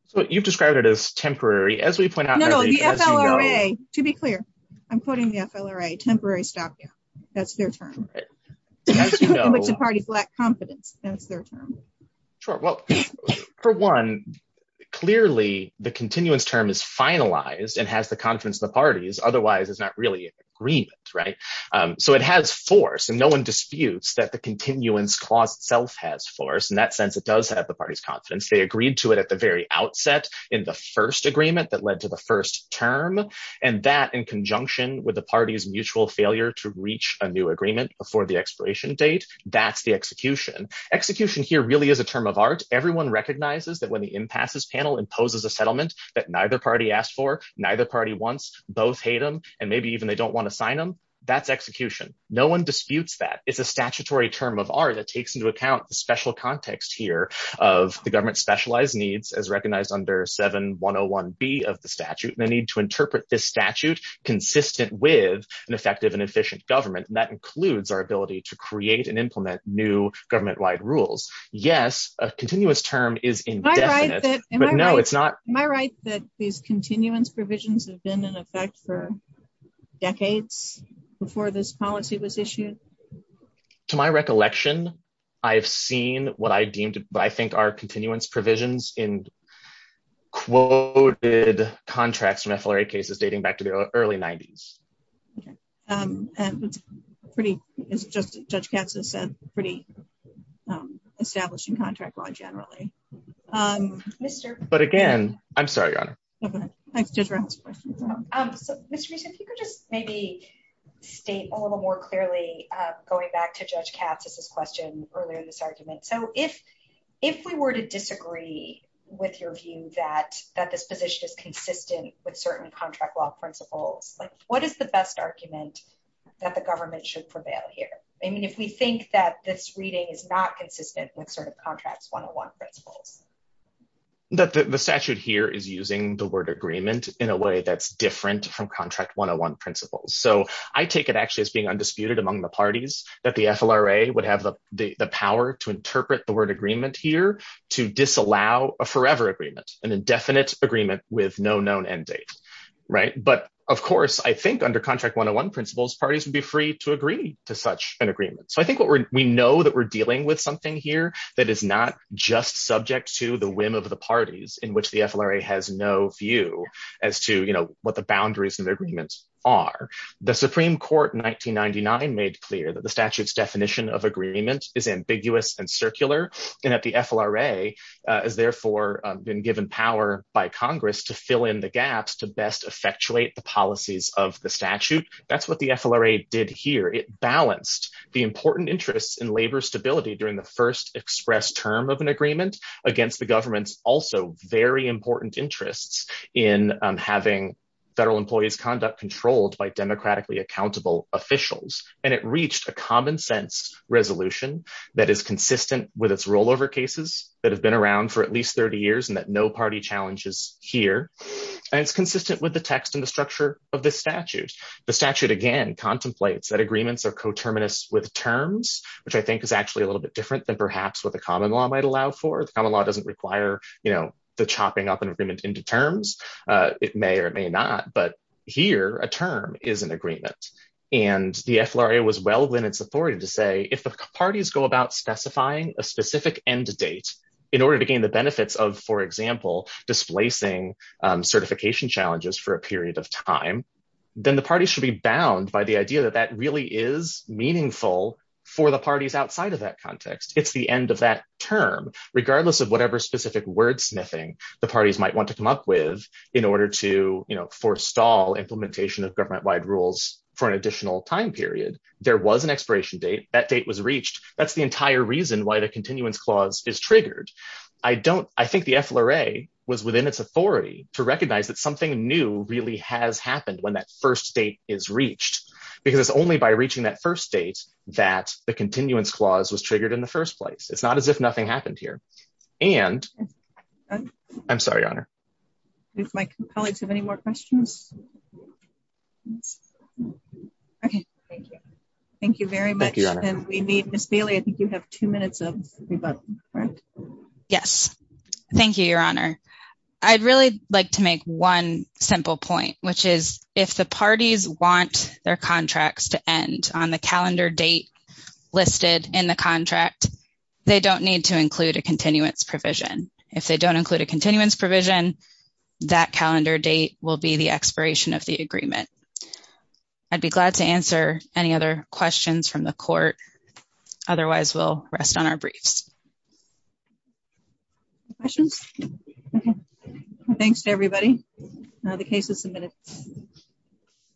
So you've described it as temporary, as we point out. To be clear, I'm quoting the FLRA, temporary stopgap. That's their term. For one, clearly the continuance term is finalized and has the confidence of the parties, otherwise it's not really an agreement, right? So it has force and no one disputes that the continuance clause itself has force. In that sense, it does have the party's confidence. They agreed to it at the very outset in the first agreement that led to the first term, and that in conjunction with the party's mutual failure to reach a new agreement before the expiration date, that's the execution. Execution here really is a term of art. Everyone recognizes that when the impasses panel imposes a settlement that neither party asked for, neither party wants, both hate them, and maybe even they don't want to sign them, that's execution. No one disputes that. It's a statutory term of art that takes into account the special context here of the government's specialized needs as recognized under 7101B of the statute. They need to interpret this statute consistent with an effective and efficient government, and that includes our ability to create and implement new government-wide rules. Yes, a continuous term is indefinite, but no, it's not... Am I right that these continuance provisions have been in effect for decades before this policy was issued? To my recollection, I've seen what I deemed, I think, are continuance provisions in quoted contracts in FLRA cases dating back to the early 90s. And it's pretty, as Judge Caps has said, pretty established in contract law generally. But again, I'm sorry, Your Honor. Mr. Beeson, if you could just maybe state a little more clearly, going back to Judge Caps' question earlier in this argument. So if we were to disagree with your view that this position is consistent with certain contract law principles, what is the best argument that the government should prevail here? I mean, if we think that this reading is not consistent with certain contract 101 principles. The statute here is using the word agreement in a way that's different from contract 101 principles. So I take it actually as being among the parties that the FLRA would have the power to interpret the word agreement here to disallow a forever agreement, an indefinite agreement with no known end date. But of course, I think under contract 101 principles, parties would be free to agree to such an agreement. So I think we know that we're dealing with something here that is not just subject to the whim of the parties in which the FLRA has no view as to what the boundaries of made clear, that the statute's definition of agreement is ambiguous and circular, and that the FLRA has therefore been given power by Congress to fill in the gaps to best effectuate the policies of the statute. That's what the FLRA did here. It balanced the important interests in labor stability during the first expressed term of an agreement against the government's also very important interests in having federal employees' conduct controlled by democratically accountable officials. And it reached a common sense resolution that is consistent with its rollover cases that have been around for at least 30 years and that no party challenges here. And it's consistent with the text and the structure of this statute. The statute, again, contemplates that agreements are coterminous with terms, which I think is actually a little bit different than perhaps what the common law might allow for. The common law doesn't require, you know, the chopping up an agreement into terms. It may or may not. But here, a term is an agreement. And the FLRA was well within its authority to say, if the parties go about specifying a specific end date in order to gain the benefits of, for example, displacing certification challenges for a period of time, then the parties should be bound by the idea that that really is meaningful for the parties outside of that context. It's the end of that term, regardless of whatever specific wordsmithing the parties might want to come up with in order to, you know, forestall implementation of government-wide rules for an additional time period. There was an expiration date. That date was reached. That's the entire reason why the continuance clause is triggered. I think the FLRA was within its authority to recognize that something new really has happened when that first date is reached, because it's only by reaching that first date that the continuance clause was triggered in the first place. It's not as if nothing happened here. And, I'm sorry, Your Honor. Do my colleagues have any more questions? Okay, thank you. Thank you very much. And we need, Ms. Bailey, I think you have two minutes of rebuttal. Yes. Thank you, Your Honor. I'd really like to make one simple point, which is, if the parties want their contracts to end on the calendar date listed in the contract, they don't need to include a continuance provision. If they don't include a continuance provision, that calendar date will be the expiration of the agreement. I'd be glad to answer any other questions from the Court. Otherwise, we'll rest on our briefs. Questions? Okay. Well, thanks to everybody. Now the case is submitted.